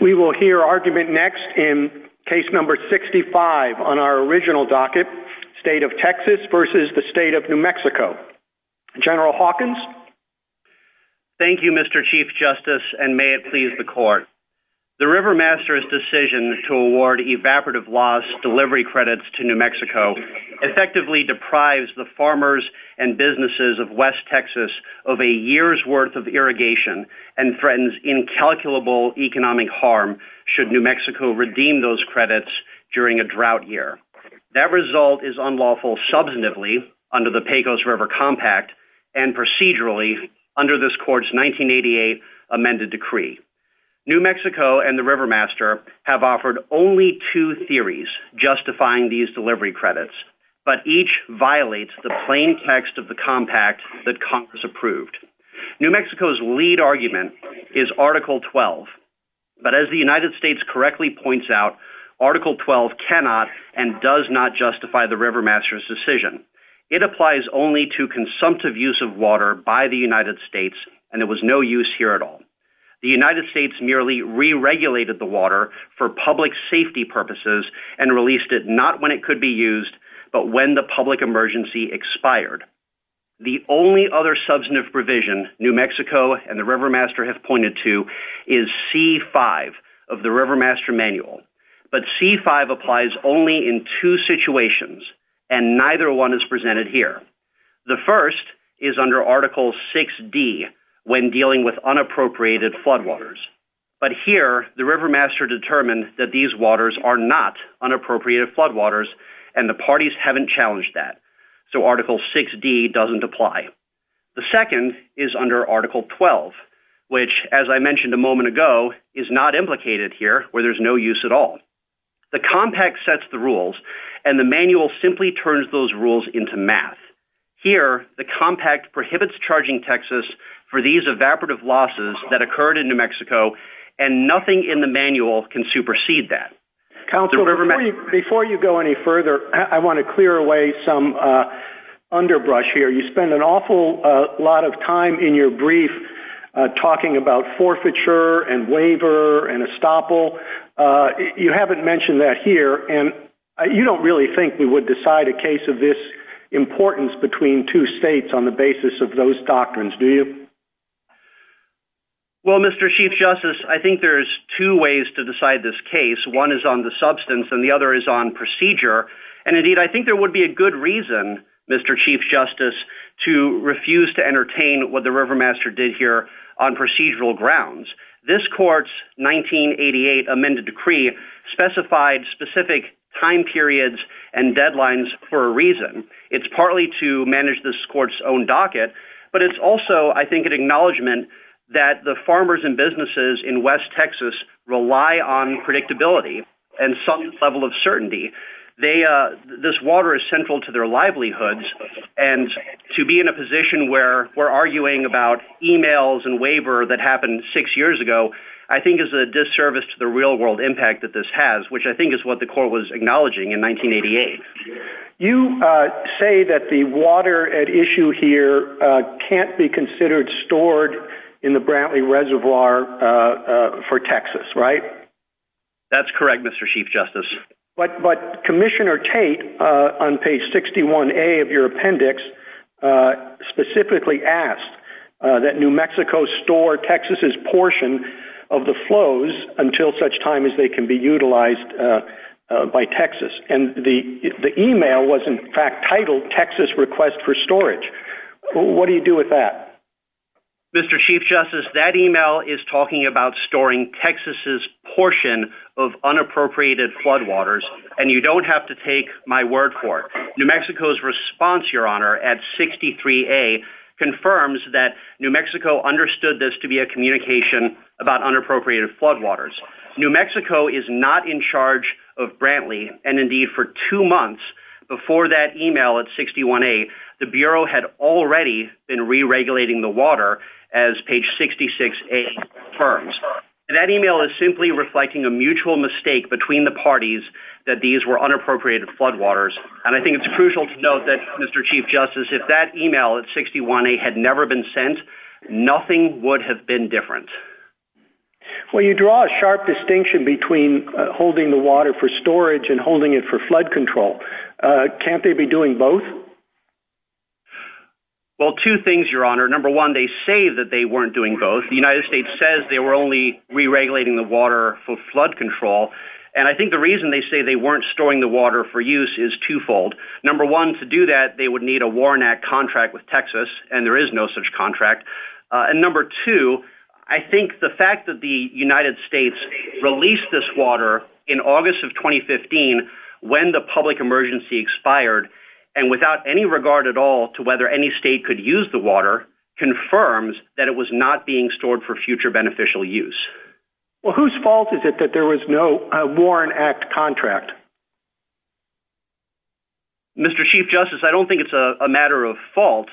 We will hear argument next in case number 65 on our original docket, state of Texas versus the state of New Mexico. General Hawkins? Thank you, Mr. Chief Justice, and may it please the court. The River Master's decision to award evaporative loss delivery credits to New Mexico effectively deprives the farmers and businesses of West Texas of a year's worth of irrigation and threatens incalculable economic harm should New Mexico redeem those credits during a drought year. That result is unlawful substantively under the Pecos River Compact and procedurally under this court's 1988 amended decree. New Mexico and the River Master have offered only two theories justifying these delivery credits, but each violates the plain text of the compact that Congress approved. New Mexico's lead argument is Article 12, but as the United States correctly points out, Article 12 cannot and does not justify the River Master's decision. It applies only to consumptive use of water by the United States and there was no use here at all. The United States merely re-regulated the water for public safety purposes and released it not when it could be The only other substantive provision New Mexico and the River Master have pointed to is C-5 of the River Master Manual, but C-5 applies only in two situations and neither one is presented here. The first is under Article 6D when dealing with unappropriated floodwaters, but here the River Master determined that these waters are not unappropriated floodwaters and the parties haven't challenged that, so Article 6D doesn't apply. The second is under Article 12, which as I mentioned a moment ago is not implicated here where there's no use at all. The compact sets the rules and the manual simply turns those rules into math. Here the compact prohibits charging Texas for these evaporative losses that occurred in New Mexico and nothing in the manual can supersede that. Counselor, before you go any further, I want to clear away some underbrush here. You spend an awful lot of time in your brief talking about forfeiture and waiver and estoppel. You haven't mentioned that here and you don't really think we would decide a case of this importance between two states on the basis of those doctrines, do you? Well, Mr. Chief Justice, I think there's two ways to decide this case. One is on the substance and the other is on procedure, and indeed I think there would be a good reason, Mr. Chief Justice, to refuse to entertain what the River Master did here on procedural grounds. This court's 1988 amended decree specified specific time periods and deadlines for a reason. It's partly to manage this court's own docket, but it's also, I think, an acknowledgement that the farmers and businesses in West Texas rely on predictability and some level of certainty. This water is central to their livelihoods and to be in a position where we're arguing about emails and waiver that happened six years ago, I think is a disservice to the real world impact that this has, which I think is what the court was acknowledging in 1988. You say that the water at issue here can't be considered stored in the Brantley Reservoir for Texas, right? That's correct, Mr. Chief Justice. But Commissioner Tate on page 61A of your appendix specifically asked that New Mexico store Texas's portion of the flows until such time as they can be utilized by Texas. And the email was, in fact, titled Texas Request for Storage. What do you do with that? Mr. Chief Justice, that email is talking about storing Texas's portion of unappropriated flood waters, and you don't have to take my word for it. New Mexico's response, Your Honor, at 63A confirms that New Mexico understood this to be a communication about unappropriated flood waters. New Mexico is not in charge of Brantley, and indeed for two months before that email at 61A, the Bureau had already been re-regulating the water as page 66A confirms. And that email is simply reflecting a mutual mistake between the parties that these were unappropriated flood waters. And I think it's crucial to note that, Mr. Chief Justice, if that email at 61A had never been sent, nothing would have been different. Well, you draw a sharp distinction between holding the water for storage and holding it for flood control. Can't they be doing both? Well, two things, Your Honor. Number one, they say that they weren't doing both. The United States says they were only re-regulating the water for flood control. And I think the reason they say they weren't storing the water for use is twofold. Number one, to do that, they would need a Warren Act contract with Texas, and there is no such contract. And number two, I think the fact that the United States released this water in August of 2015 when the public emergency expired, and without any regard at all to whether any state could use the water, confirms that it was not being Mr. Chief Justice, I don't think it's a matter of fault.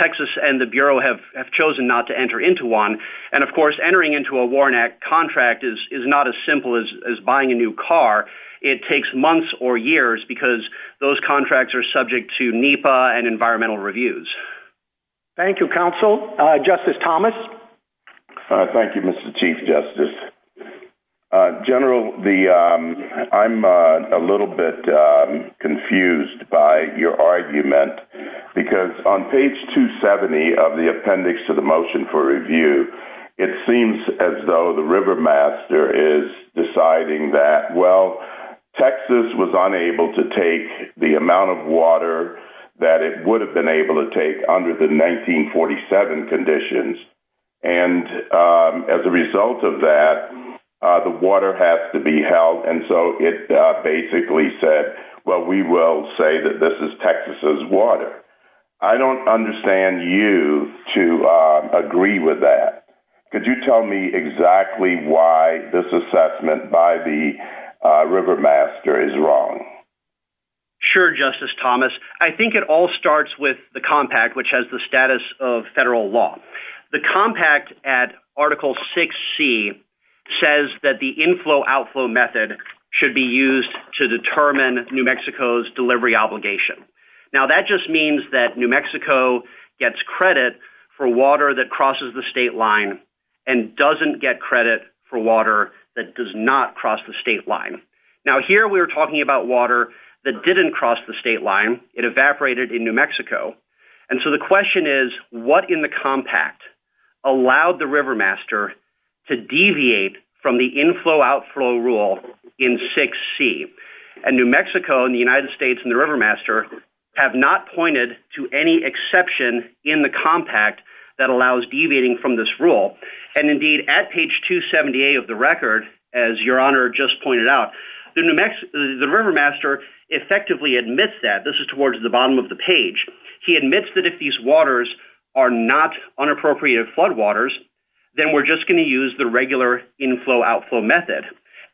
Texas and the Bureau have chosen not to enter into one. And of course, entering into a Warren Act contract is not as simple as buying a new car. It takes months or years because those contracts are subject to NEPA and environmental laws. I'm a little bit confused by your argument because on page 270 of the appendix to the motion for review, it seems as though the river master is deciding that, well, Texas was unable to take the amount of water that it would have been able to take under the 1947 conditions. And as a result of that, the water has to be held. And so it basically said, well, we will say that this is Texas's water. I don't understand you to agree with that. Could you tell me exactly why this assessment by the river master is wrong? Sure, Justice Thomas. I think it all starts with the compact, which has the status of federal law. The compact at article 6C says that the inflow outflow method should be used to determine New Mexico's delivery obligation. Now that just means that New Mexico gets credit for water that crosses the state line and doesn't get credit for water that does not cross the state line. Now here we're talking about water that didn't cross the state line. It evaporated in New Mexico. And so the question is, what in the compact allowed the river master to deviate from the inflow outflow rule in 6C? And New Mexico and the United States and the river master have not pointed to any exception in the compact that allows deviating from this rule. And indeed at page 278 of the record, as your honor just pointed out, the river master effectively admits that. This is towards the bottom of the page. He admits that if these waters are not unappropriated floodwaters, then we're just going to use the regular inflow outflow method.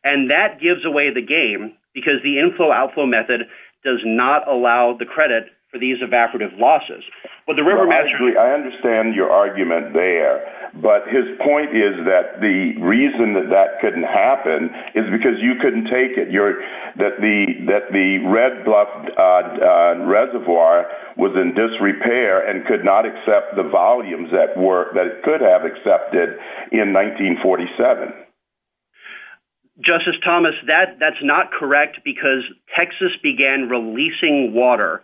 And that gives away the game because the inflow outflow method does not allow the credit for these evaporative losses. I understand your argument there, but his point is that the reason that that happened is because you couldn't take it. That the Red Bluff Reservoir was in disrepair and could not accept the volumes that it could have accepted in 1947. Justice Thomas, that's not correct because Texas began releasing water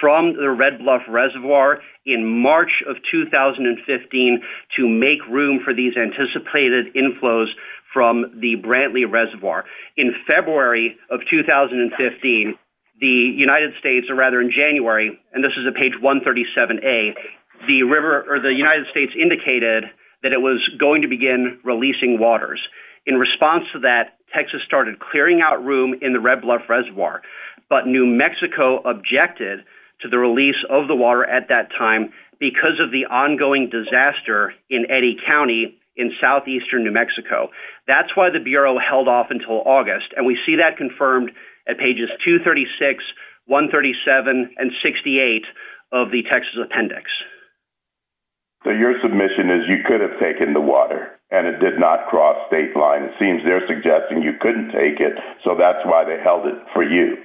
from the Red Bluff Reservoir in March of 2015 to make room for these anticipated inflows from the Brantley Reservoir. In February of 2015, the United States, or rather in January, and this is a page 137A, the river or the United States indicated that it was going to begin releasing waters. In response to that, Texas started clearing out room in the Red Bluff Reservoir, but New Mexico objected to the release of the water at that time because of the ongoing disaster in Eddy County in southeastern New Mexico. That's why the Bureau held off until August. And we see that confirmed at pages 236, 137, and 68 of the Texas appendix. So your submission is you could have taken the water and it did not cross state lines. It seems they're suggesting you couldn't take it. So that's why they held for you.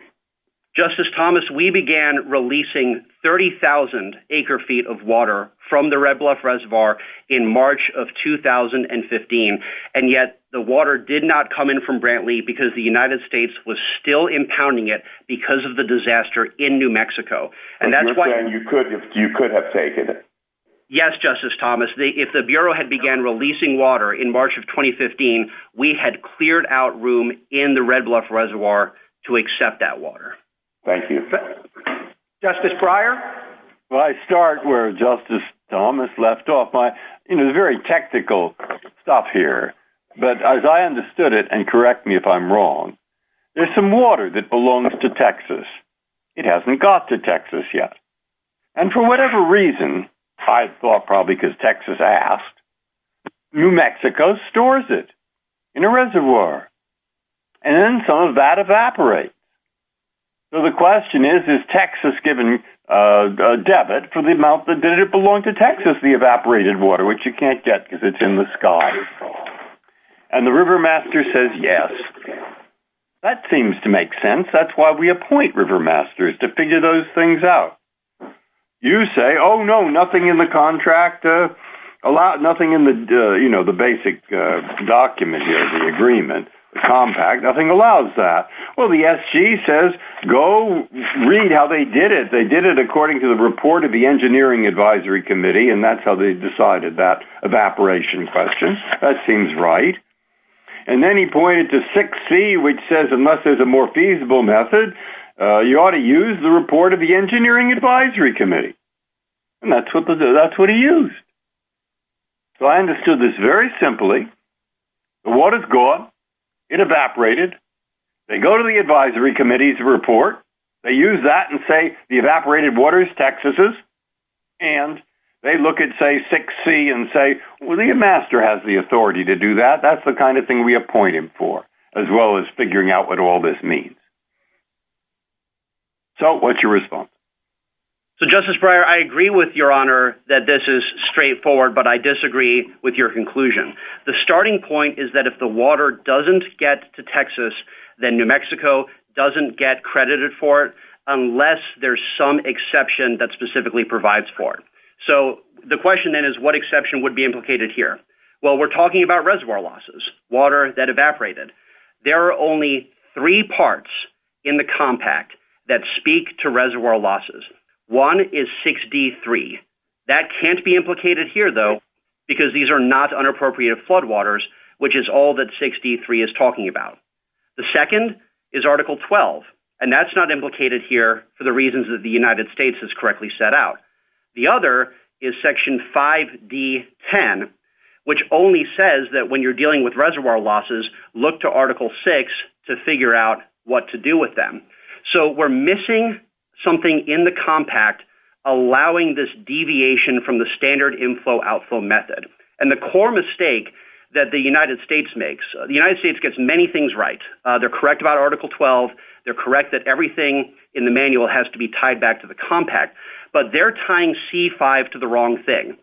Justice Thomas, we began releasing 30,000 acre feet of water from the Red Bluff Reservoir in March of 2015. And yet the water did not come in from Brantley because the United States was still impounding it because of the disaster in New Mexico. And that's why you could have taken it. Yes, Justice Thomas, if the Bureau had began releasing water in March of 2015, we had cleared out room in the Red Bluff Reservoir to accept that water. Justice Breyer? Well, I start where Justice Thomas left off. It's very technical stuff here, but as I understood it, and correct me if I'm wrong, there's some water that belongs to Texas. It hasn't got to Texas yet. And for whatever reason, I thought probably because Texas asked, New Mexico stores it in a reservoir. And then some of that evaporates. So the question is, is Texas given a debit for the amount that did it belong to Texas, the evaporated water, which you can't get because it's in the sky. And the river master says yes. That seems to make sense. That's why we appoint river masters to figure those things out. You say, oh, no, nothing in the contract, nothing in the basic document here, the agreement, compact, nothing allows that. Well, the SG says, go read how they did it. They did it according to the report of the Engineering Advisory Committee. And that's how they decided that evaporation question. That seems right. And then he pointed to 6C, which says, unless there's a more feasible method, you ought to use the report of the Engineering Advisory Committee. And that's what he used. So I understood this very simply. The water's gone. It evaporated. They go to the Advisory Committee's report. They use that and say, the evaporated water is Texas's. And they look at, say, 6C and say, well, the master has the all this means. So what's your response? So Justice Breyer, I agree with your honor that this is straightforward, but I disagree with your conclusion. The starting point is that if the water doesn't get to Texas, then New Mexico doesn't get credited for it unless there's some exception that specifically provides for it. So the question then is, what exception would be implicated here? Well, we're talking about reservoir losses, water that evaporated. There are only three parts in the compact that speak to reservoir losses. One is 6D3. That can't be implicated here, though, because these are not unappropriated floodwaters, which is all that 6D3 is talking about. The second is Article 12, and that's not implicated here for the reasons that the United States has correctly set out. The other is Section 5D10, which only says that when you're dealing with reservoir losses, look to Article 6 to figure out what to do with them. So we're missing something in the compact allowing this deviation from the standard inflow-outflow method. And the core mistake that the United States makes, the United States gets many things right. They're correct about Article 12. They're correct that everything in the manual has to be tied back to the compact. But they're tying C5 to the wrong thing.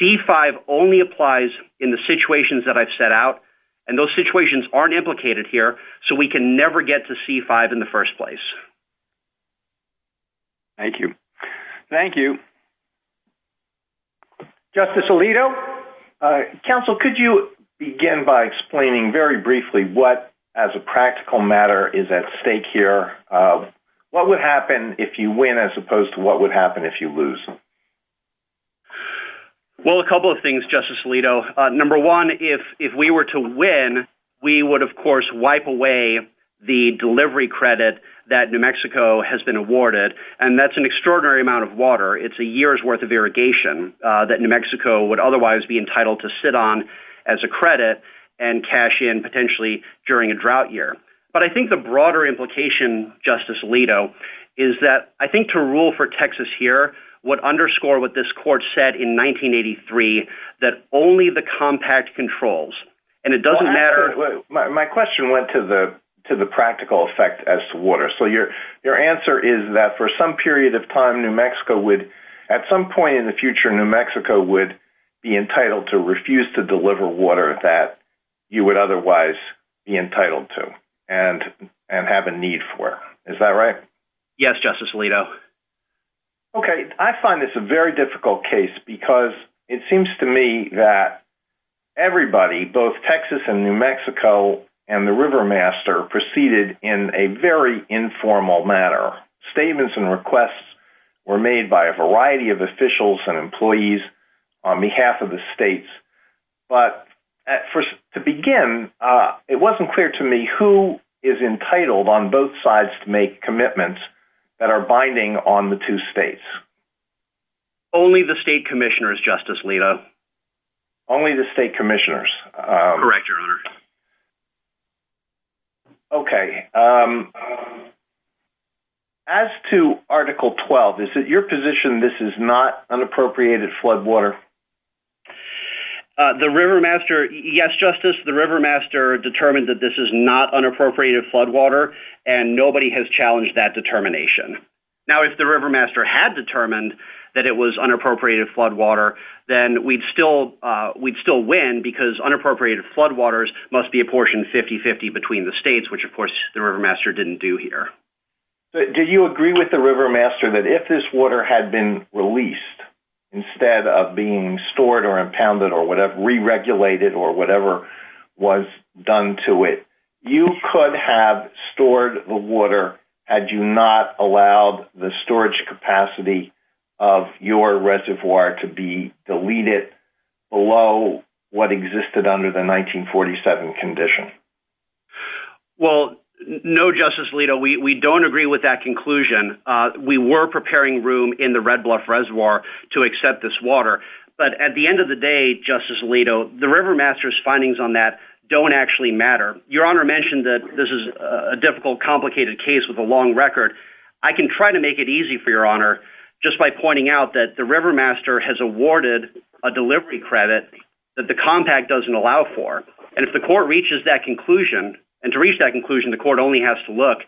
C5 only applies in the situations that I've set out, and those situations aren't implicated here, so we can never get to C5 in the first place. Thank you. Thank you. Justice Alito, counsel, could you begin by explaining very briefly what, as a practical matter, is at stake here? What would happen if you win as opposed to what would happen if you lose? Well, a couple of things, Justice Alito. Number one, if we were to win, we would, of course, wipe away the delivery credit that New Mexico has been awarded, and that's an extraordinary amount of water. It's a year's worth of irrigation that New Mexico would otherwise be entitled to sit on as a credit and cash in, potentially, during a drought year. But I think the broader implication, Justice Alito, is that I think to rule for Texas here would underscore what this court said in 1983, that only the compact controls, and it doesn't matter... My question went to the practical effect as to water. So your answer is that for some period of time, New Mexico would, at some point in the future, New Mexico would be entitled to refuse to deliver water that you would otherwise be entitled to and have a need for. Is that right? Yes, Justice Alito. Okay. I find this a very difficult case because it seems to me that everybody, both Texas and New Mexico, has a right to refuse to deliver water. The decisions were made by a variety of officials and employees on behalf of the states. But to begin, it wasn't clear to me who is entitled on both sides to make commitments that are binding on the two states. Only the state commissioners, Justice Alito. Only the state commissioners. Correct, Your Honor. Okay. As to Article 12, is it your position this is not unappropriated flood water? The river master... Yes, Justice. The river master determined that this is not unappropriated flood water, and nobody has challenged that determination. Now, if the river master had determined that it was unappropriated flood water, then we'd still win because unappropriated flood waters must be a portion 50-50 between the states, which, of course, the river master didn't do here. Do you agree with the river master that if this water had been released instead of being stored or impounded or re-regulated or whatever was done to it, you could have stored the water had you not allowed the storage capacity of your reservoir to be deleted below what existed under the 1947 condition? Well, no, Justice Alito. We don't agree with that conclusion. We were preparing room in the Red Bluff Reservoir to accept this water. But at the end of the day, Justice Alito, the river master's findings on that don't actually matter. Your honor mentioned that this is a difficult, complicated case with a long record. I can try to make it easy for your honor just by pointing out that the river master has awarded a delivery credit that the compact doesn't allow for. And if the court reaches that conclusion, and to reach that conclusion, the court only has to look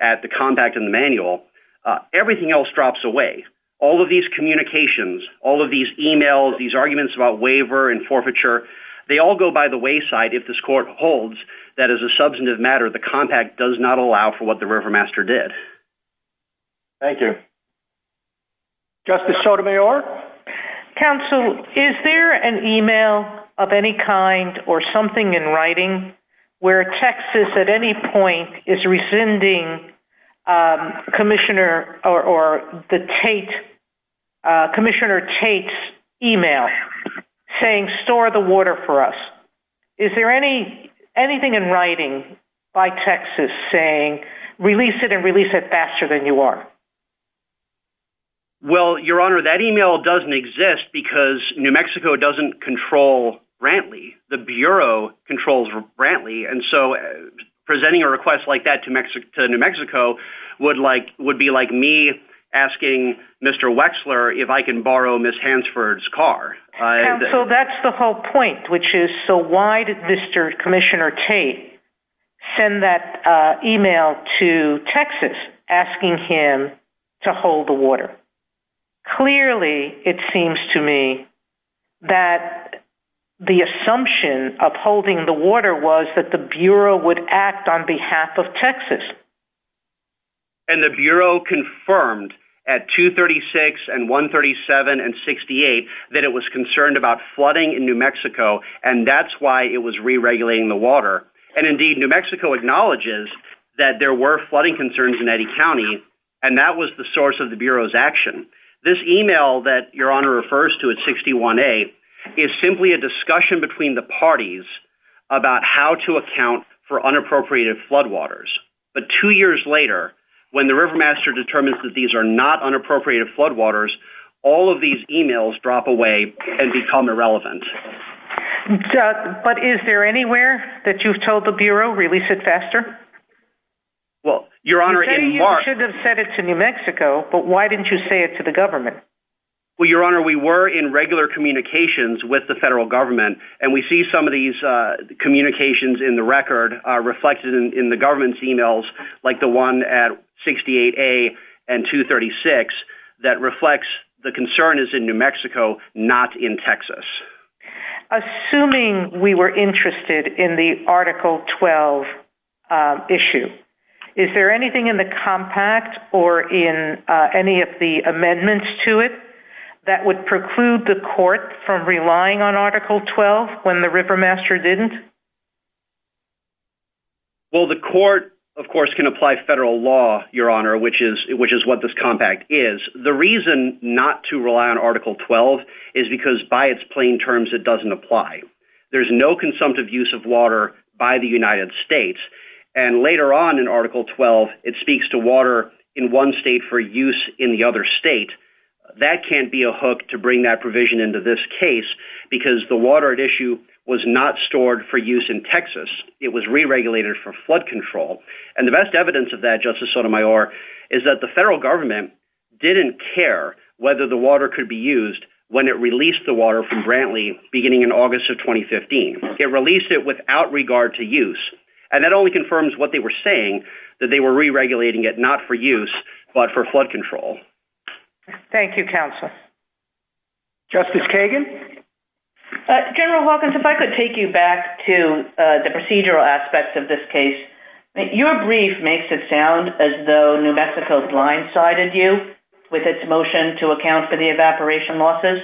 at the compact in the manual, everything else drops away. All of these communications, all of these emails, these arguments about waiver and forfeiture, they all go by the wayside if this court holds that as a substantive matter, the compact does not allow for what the river master did. Thank you. Justice Sotomayor. Counsel, is there an email of any kind or something in writing where Texas at any point is rescinding Commissioner Tate's email saying, store the water for us. Is there anything in writing by Texas saying, release it and release it faster than you are? Well, your honor, that email doesn't exist because New Mexico doesn't control Brantley. The bureau controls Brantley. And so presenting a request like that to New Mexico would be like me asking Mr. Wexler if I can borrow Ms. Hansford's car. So that's the whole point, which is so why did Mr. Commissioner Tate send that email to Texas asking him to hold the water? Clearly it seems to me that the assumption of holding the water was that the bureau would act on behalf of Texas. And the bureau confirmed at 236 and 137 and 68 that it was concerned about flooding in New Mexico and that's why it was re-regulating the water. And indeed, New Mexico acknowledges that there were flooding concerns in Eddy County and that was the source of the bureau's action. This email that your honor refers to at 61A is simply a discussion between the parties about how to account for unappropriated floodwaters. But two years later, when the river master determines that these are not unappropriated floodwaters, all of these emails drop away and become irrelevant. But is there anywhere that you've told the bureau, release it faster? Well, your honor, in March... You should have sent it to New Mexico, but why didn't you say it to the government? Well, your honor, we were in regular communications with the federal government and we see some of these communications in the record reflected in the government's emails like the one at 68A and 236 that reflects the concern is in New Mexico, not in Texas. Assuming we were interested in the Article 12 issue, is there anything in the compact or in any of the amendments to it that would preclude the court from relying on Article 12 when the river master didn't? Well, the court, of course, can apply federal law, your honor, which is what this compact is. The reason not to rely on Article 12 is because by its plain terms, it doesn't apply. There's no consumptive use of water by the United States. And later on in Article 12, it speaks to water in one state for use in the other state. That can't be a hook to bring that provision into this case because the water at issue was not stored for use in Texas. It was re-regulated for flood control. And the best evidence of that, Justice Sotomayor, is that the federal government didn't care whether the water could be used when it released the water from Brantley beginning in August of 2015. It released it without regard to use. And that only confirms what they were saying, that they were re-regulating it not for use, but for flood control. Thank you, counsel. Justice Kagan? General Hawkins, if I could take you back to the procedural aspects of this case. Your brief makes it sound as though New Mexico blindsided you with its motion to account for the evaporation losses.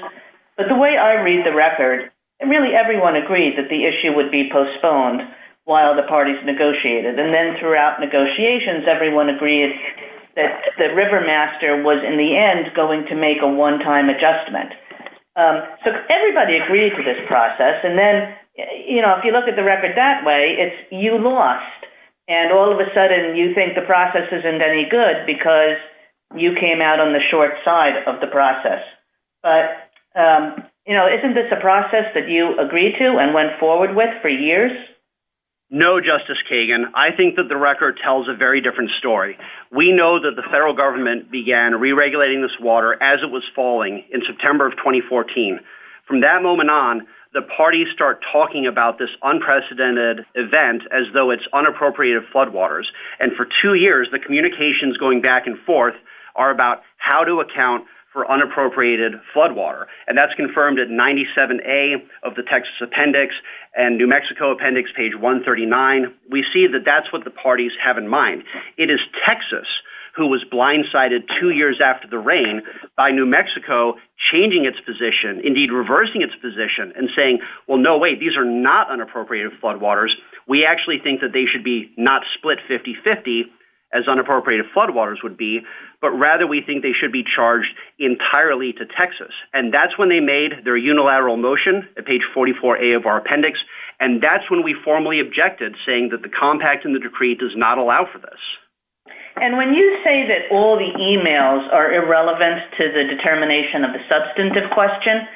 But the way I read the record, really everyone agreed that the issue would be postponed while the parties negotiated. And then throughout negotiations, everyone agreed that Rivermaster was, in the end, going to make a one-time adjustment. So everybody agreed to this process. And then, you know, if you look at the record that way, it's you lost. And all of a sudden, you think the process isn't any good because you came out on the short side of the process. But, you know, isn't this a process that you agreed to and went forward with for years? No, Justice Kagan. I think that the record tells a very different story. We know that the federal government began re-regulating this water as it was falling in September of 2014. From that moment on, the parties start talking about this unprecedented event as though it's unappropriated floodwaters. And for two years, the communications going back and forth are about how to account for unappropriated floodwater. And that's confirmed at 97A of the Texas Appendix and New Mexico Appendix, page 139. We see that that's what the parties have in mind. It is Texas who was blindsided two years after the rain by New Mexico changing its position, indeed reversing its position, and saying, well, no, wait, these are not unappropriated floodwaters. We actually think that they should be not split 50-50, as unappropriated floodwaters would be, but rather we think they should be charged entirely to Texas. And that's when they made their unilateral motion at page 44A of our appendix. And that's when we formally objected, saying that the compact in the decree does not allow for this. And when you say that all the emails are irrelevant to the determination of a substantive question,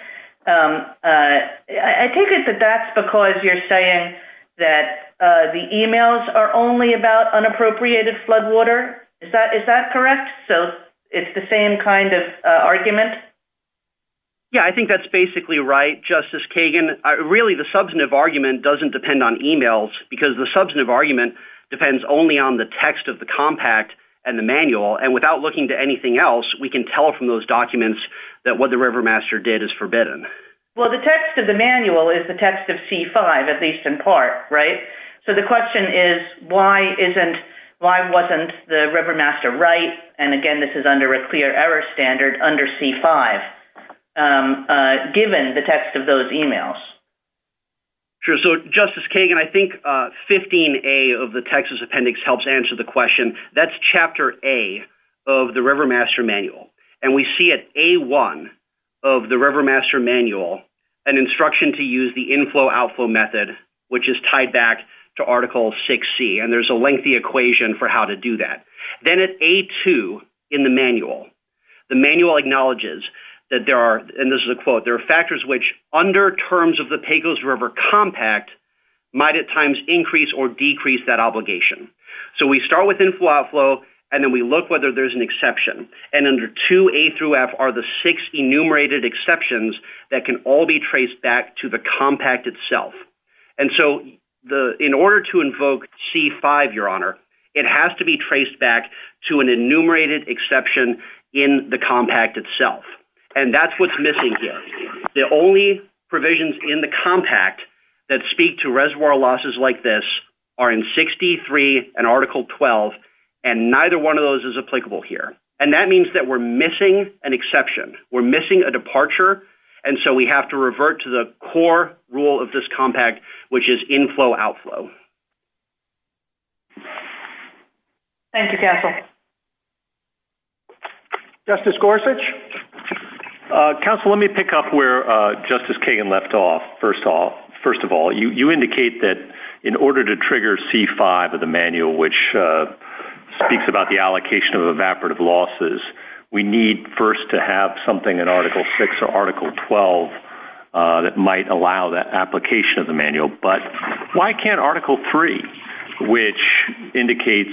I take it that that's because you're saying that the emails are only about unappropriated floodwater. Is that correct? So it's the same kind of argument? Yeah, I think that's basically right, Justice Kagan. Really, the substantive argument doesn't depend on emails, because the substantive argument depends only on the text of the compact and the manual. And without looking to anything else, we can tell from those documents that what the Rivermaster did is forbidden. Well, the text of the manual is the text of C-5, at least in part, right? So the question is, why wasn't the Rivermaster right? And again, this is under a clear error standard under C-5, given the text of those emails. Sure, so Justice Kagan, I think 15A of the Texas appendix helps answer the question. That's chapter A of the Rivermaster manual. And we see at A-1 of the Rivermaster manual, an instruction to use the inflow-outflow method, which is tied back to Article 6C. And there's a lengthy equation for how to do that. Then at A-2 in the manual, the manual acknowledges that there are, and this is a quote, there are factors which, under terms of the Pecos River compact, might at times increase or decrease that obligation. So we start with inflow-outflow, and then we look whether there's an exception. And under 2A through F are the six enumerated exceptions that can all be traced back to the compact itself. And so in order to invoke C-5, Your Honor, it has to be traced back to an enumerated exception in the compact itself. And that's what's missing here. The only provisions in the compact that speak to reservoir losses like this are in 6D-3 and Article 12, and neither one of those is applicable here. And that means that we're missing an exception. We're missing a departure. And so we have to revert to the core rule of this compact, which is inflow-outflow. Thank you, Counsel. Justice Gorsuch? Counsel, let me pick up where Justice Kagan left off, first of all. You indicate that in order to trigger C-5 of the manual, which speaks about the allocation of evaporative losses, we need first to have something in Article 6 or Article 12 that might allow that application of the manual. But why can't Article 3, which indicates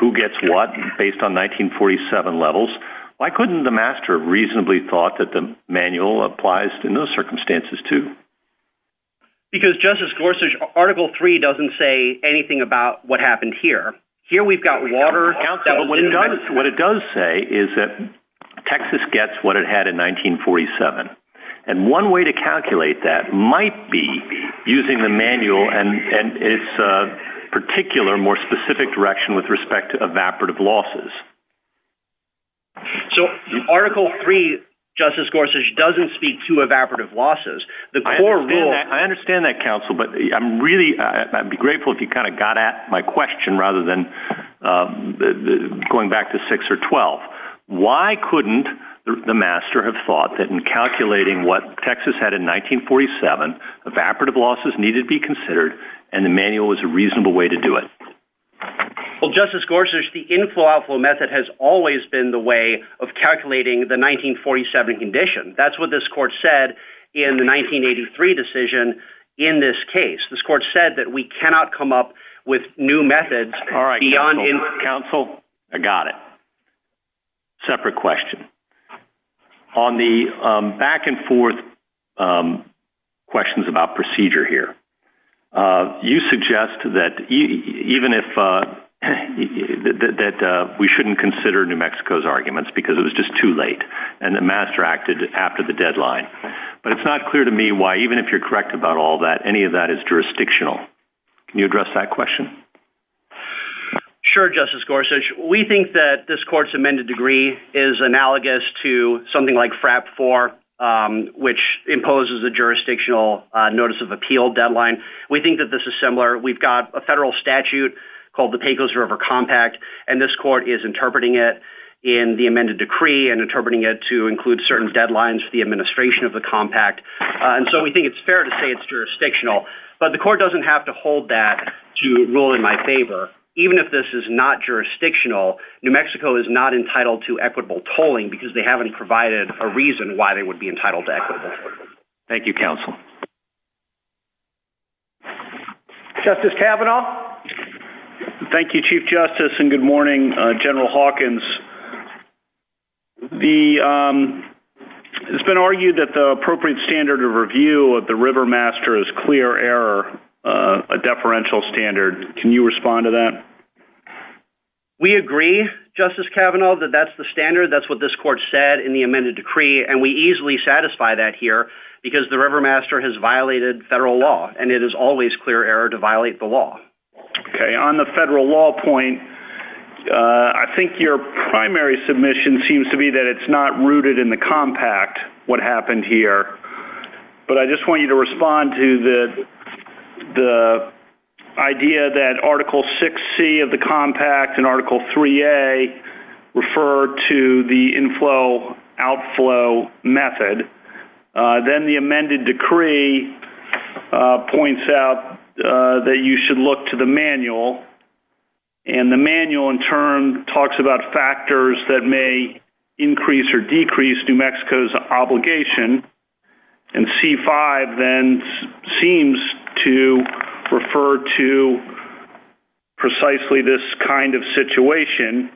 who gets what based on 1947 levels, why couldn't the master have reasonably thought that the manual applies in those circumstances too? Because, Justice Gorsuch, Article 3 doesn't say anything about what happened here. Here, we've got water... Counsel, what it does say is that Texas gets what it had in 1947. And one way to calculate that might be using the manual and its particular, more specific direction with respect to evaporative losses. So, Article 3, Justice Gorsuch, doesn't speak to evaporative losses. The core rule... I understand that, Counsel, but I'd be grateful if you kind of got at my question rather than going back to 6 or 12. Why couldn't the master have thought that in calculating what Texas had in 1947, evaporative losses needed to be considered, and the manual was a reasonable way to do it? Well, Justice Gorsuch, the inflow-outflow method has always been the way of calculating the 1947 condition. That's what this court said in the 1983 decision in this case. This court said that we cannot come up with new methods beyond... All right, Counsel, I got it. Separate question. On the back and forth questions about procedure here, you suggest that even if... that we shouldn't consider New Mexico's arguments because it was just too late and the master acted after the deadline. But it's not clear to me why, even if you're correct about all that, any of that is jurisdictional. Can you address that question? Sure, Justice Gorsuch. We think that this court's amended degree is analogous to something like FRAP 4, which imposes a jurisdictional notice of appeal deadline. We think that this is similar. We've got a federal statute called the Pecos River Compact, and this court is interpreting it in the amended decree and interpreting it to include certain deadlines for the administration of the compact. And so we think it's fair to say it's jurisdictional. But the court doesn't have to hold that to rule in my favor. Even if this is not jurisdictional, New Mexico is not entitled to equitable tolling because they haven't provided a reason why they would be entitled to equitable. Thank you, Counsel. Justice Kavanaugh. Thank you, Chief Justice, and good morning, General Hawkins. The... It's been argued that the appropriate standard of review of the River Master is clear error, a deferential standard. Can you respond to that? We agree, Justice Kavanaugh, that that's the standard. That's what this court said in the amended decree, and we easily satisfy that here because the River Master has violated federal law, and it is always clear error to violate the law. Okay, on the federal law point, I think your primary submission seems to be that it's not rooted in the compact, what happened here. But I just want you to respond to the idea that Article 6C of the compact and Article 3A refer to the inflow-outflow method. Then the amended decree points out that you should look to the manual, and the manual, in turn, talks about factors that may increase or decrease New Mexico's obligation. And C-5 then seems to refer to precisely this kind of situation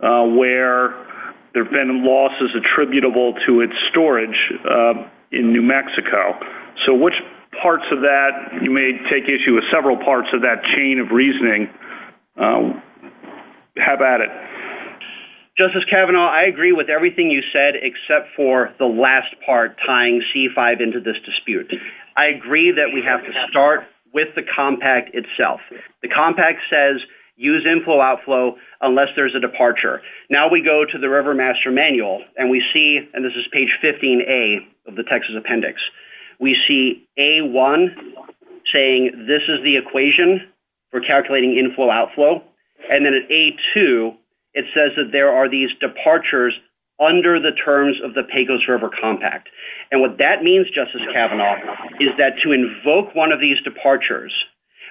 where there have been losses attributable to its storage in New Mexico. So which parts of that you may take issue with several parts of that chain of reasoning. How about it? Justice Kavanaugh, I agree with everything you said, except for the last part, tying C-5 into this dispute. I agree that we have to start with the compact itself. The compact says use inflow-outflow unless there's a departure. Now we go to the River Master manual, and we see, and this is page 15A of the Texas appendix, we see A-1 saying this is the equation for calculating inflow-outflow. And then at A-2, it says that there are these departures under the terms of the Pecos River Compact. And what that means, Justice Kavanaugh, is that to invoke one of these departures,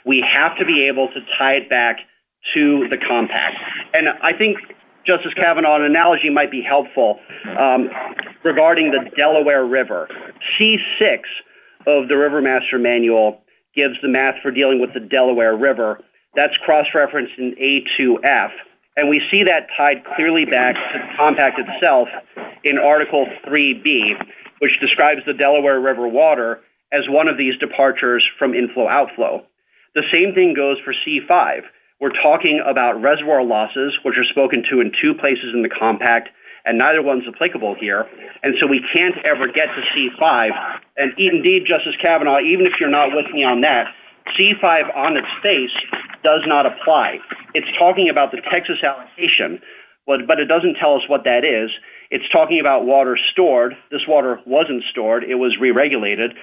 we have to be able to tie it back to the compact. And I think, Justice Kavanaugh, an analogy might be helpful regarding the Delaware River. C-6 of the River Master manual gives the math for dealing with the Delaware River. That's cross-referenced in A-2F. And we see that tied clearly back to the compact itself in Article 3B, which describes the Delaware River water as one of these departures from inflow-outflow. The same thing goes for C-5. We're talking about reservoir losses, which are spoken to in two places in the compact, and neither one's applicable here. And so we can't ever get to C-5. And indeed, Justice Kavanaugh, even if you're not with me on that, C-5 on its face does not apply. It's talking about the Texas allocation, but it doesn't tell us what that is. It's talking about water stored. This water wasn't stored. It was re-regulated.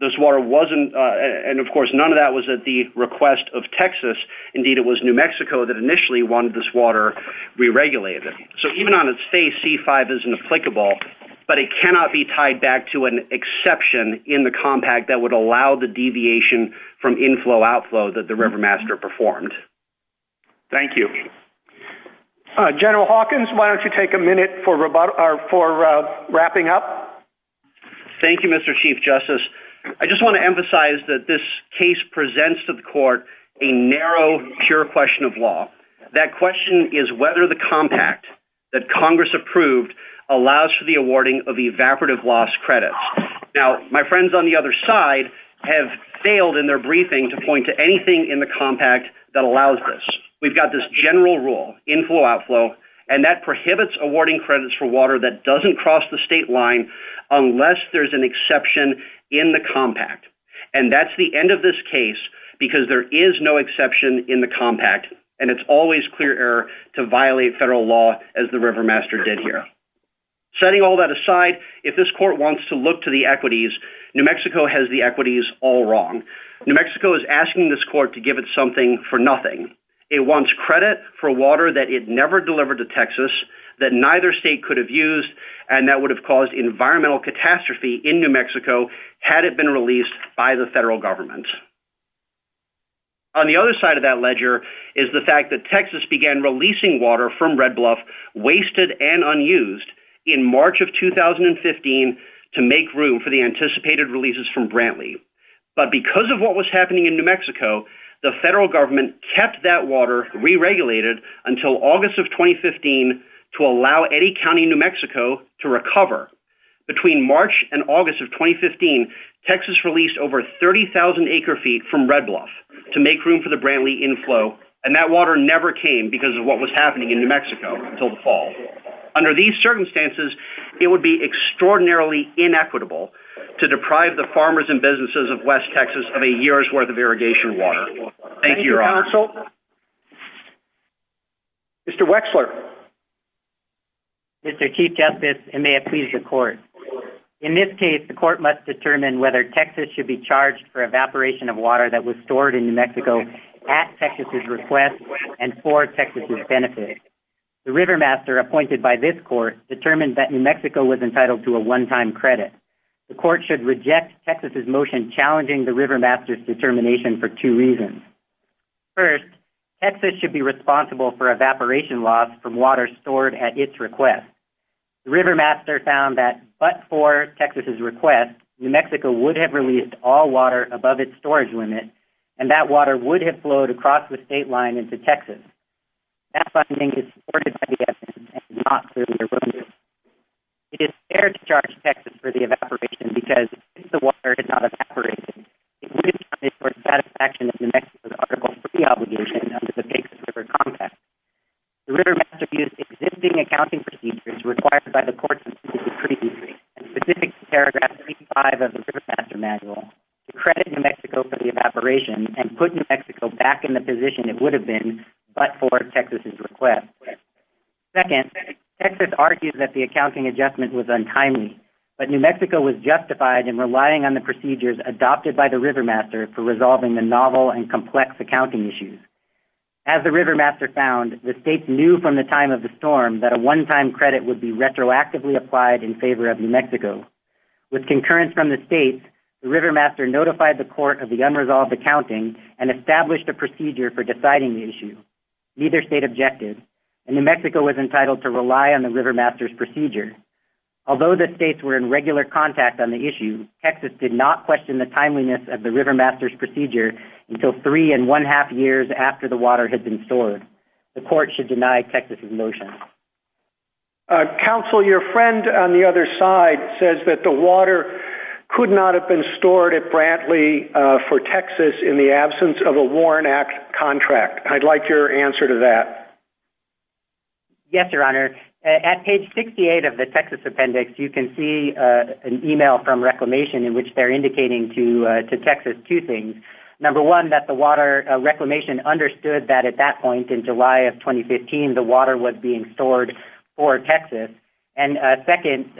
This water wasn't, and of course, none of that was at the request of Texas. Indeed, it was New Mexico that initially wanted this water re-regulated. So even on its face, C-5 isn't applicable, but it cannot be tied back to an exception in the compact that would allow the deviation from inflow-outflow that the river master performed. Thank you. General Hawkins, why don't you take a minute for wrapping up? Thank you, Mr. Chief Justice. I just want to emphasize that this case presents to the court a narrow, pure question of law. That question is whether the compact that Congress approved allows for the awarding of evaporative loss credits. Now, my friends on the other side have failed in their briefing to point to anything in the compact that allows this. We've got this general rule, inflow-outflow, and that prohibits awarding credits for water that doesn't cross the state line unless there's an exception in the compact. And that's the end of this case because there is no exception in the compact, and it's always clear error to violate federal law as the river master did here. Setting all that aside, if this court wants to look to the equities, New Mexico has the equities all wrong. New Mexico is asking this court to give it something for nothing. It wants credit for water that it never delivered to Texas that neither state could have used, and that would have caused environmental catastrophe in New Mexico had it been released by the federal government. On the other side of that ledger is the fact that Texas began releasing water from Red Bluff, wasted and unused, in March of 2015 to make room for the anticipated releases from Brantley. But because of what was happening in New Mexico, the federal government kept that water re-regulated until August of 2015 to allow any county in New Mexico to recover. Between March and August of 2015, Texas released over 30,000 acre-feet from Red Bluff to make room for the Brantley inflow, and that water never came because of what was happening in New Mexico until the fall. Under these circumstances, it would be extraordinarily inequitable to deprive the farmers and businesses of West Texas of a year's worth of irrigation water. Thank you, Your Honor. Mr. Wexler. Mr. Chief Justice, and may it please your court. In this case, the court must determine whether Texas should be charged for evaporation of water that was stored in New Mexico at Texas's request and for Texas's benefit. The Rivermaster appointed by this court determined that New Mexico was entitled to a one-time credit. The court should reject Texas's motion challenging the Rivermaster's determination for two reasons. First, Texas should be responsible for evaporation loss from water stored at its request. The Rivermaster found that, but for Texas's request, New Mexico would have released all water above its storage limit, and that water would have flowed across the state line into Texas. That funding is supported by the essence and is not solely their business. It is fair to charge Texas for the evaporation because if the water had not evaporated, it would have done it for the satisfaction of New Mexico's Article III obligation under the Texas River Contract. The Rivermaster used existing accounting procedures required by the court's decision previously, and specific to Paragraph 35 of the Rivermaster Manual, to credit New Mexico for the evaporation and put New Mexico back in the position it would have been but for Texas's request. Second, Texas argued that the accounting adjustment was untimely, but New Mexico was justified in relying on the procedures adopted by the Rivermaster for resolving the novel and complex accounting issues. As the Rivermaster found, the states knew from the time of the storm that a one-time credit would be retroactively applied in favor of New Mexico. With concurrence from the states, the Rivermaster notified the court of the unresolved accounting and established a procedure for deciding the issue. Neither state objected, and New Mexico was entitled to rely on the Rivermaster's procedure. Although the states were in regular contact on the issue, Texas did not question the timeliness of the Rivermaster's procedure until three and one-half years after the water had been stored. The court should deny Texas's motion. Counsel, your friend on the other side says that the water could not have been stored at Brantley for Texas in the absence of a Warren Act contract. I'd like your answer to that. Yes, Your Honor. At page 68 of the Texas Appendix, you can see an email from Reclamation in which they're indicating to Texas two things. Number one, that the Water Reclamation understood that at that point in July of 2015, the water was being stored for Texas. And second,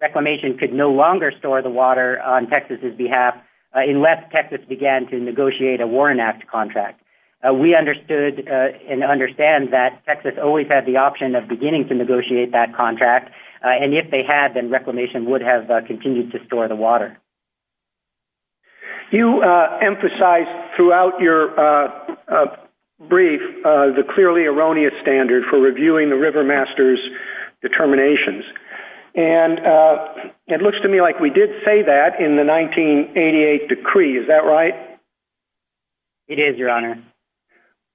Reclamation could no longer store the water on Texas's behalf unless Texas began to negotiate a Warren Act contract. We understood and understand that Texas always had the option of beginning to negotiate that contract, You emphasized throughout your brief the clearly erroneous standard for reviewing the Rivermaster's determinations. And it looks to me like we did say that in the 1988 decree. Is that right? It is, Your Honor.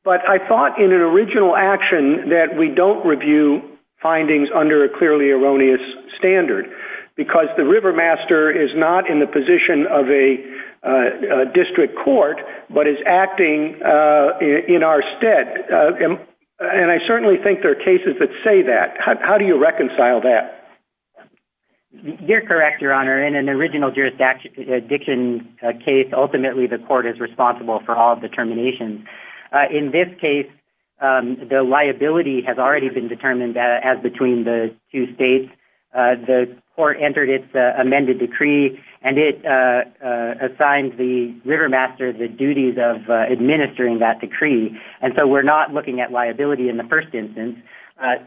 But I thought in an original action that we don't review findings under a clearly erroneous standard because the Rivermaster is not in the position of a district court, but is acting in our stead. And I certainly think there are cases that say that. How do you reconcile that? You're correct, Your Honor. In an original jurisdiction case, ultimately the court is responsible for all determinations. In this case, the liability has already been determined as between the two states. The court entered its amended decree and it assigned the Rivermaster the duties of administering that decree. And so we're not looking at liability in the first instance.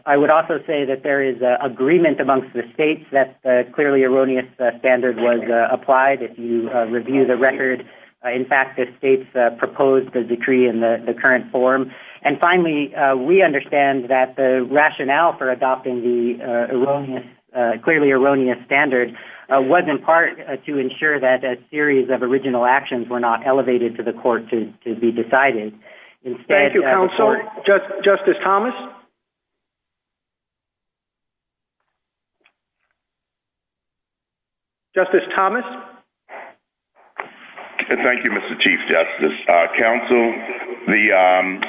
I would also say that there is agreement amongst the states that clearly erroneous standard was applied. If you review the record, in fact, the states proposed the decree in the current form. And finally, we understand that the rationale for adopting the clearly erroneous standard was in part to ensure that a series of original actions were not elevated to the court to be decided. Thank you, counsel. Justice Thomas? Justice Thomas? Thank you, Mr. Chief Justice. Counsel, the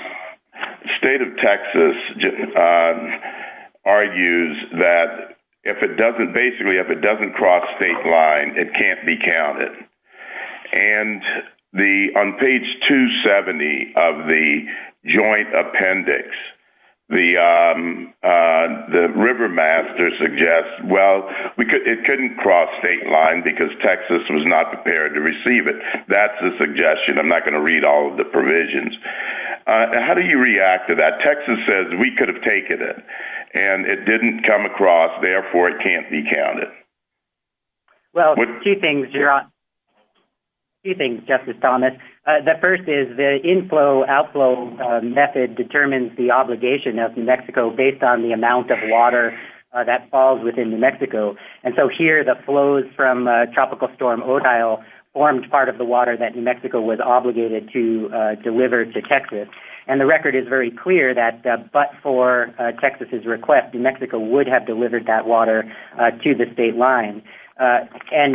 state of Texas argues that if it doesn't, basically, if it doesn't cross state line, it can't be counted. And on page 270 of the joint appendix, the Rivermaster suggests, well, it couldn't cross state line because Texas was not prepared to receive it. That's a suggestion. I'm not going to read all of the provisions. How do you react to that? Texas says we could have taken it and it didn't come across, therefore, it can't be counted. Well, two things, Justice Thomas. The first is the inflow-outflow method determines the obligation of New Mexico based on the amount of water that falls within New Mexico. And so here, the flows from Tropical Storm Odile formed part of the water that New Mexico was obligated to deliver to Texas. And the record is very clear that but for Texas's request, New Mexico would have delivered that water to the state line. And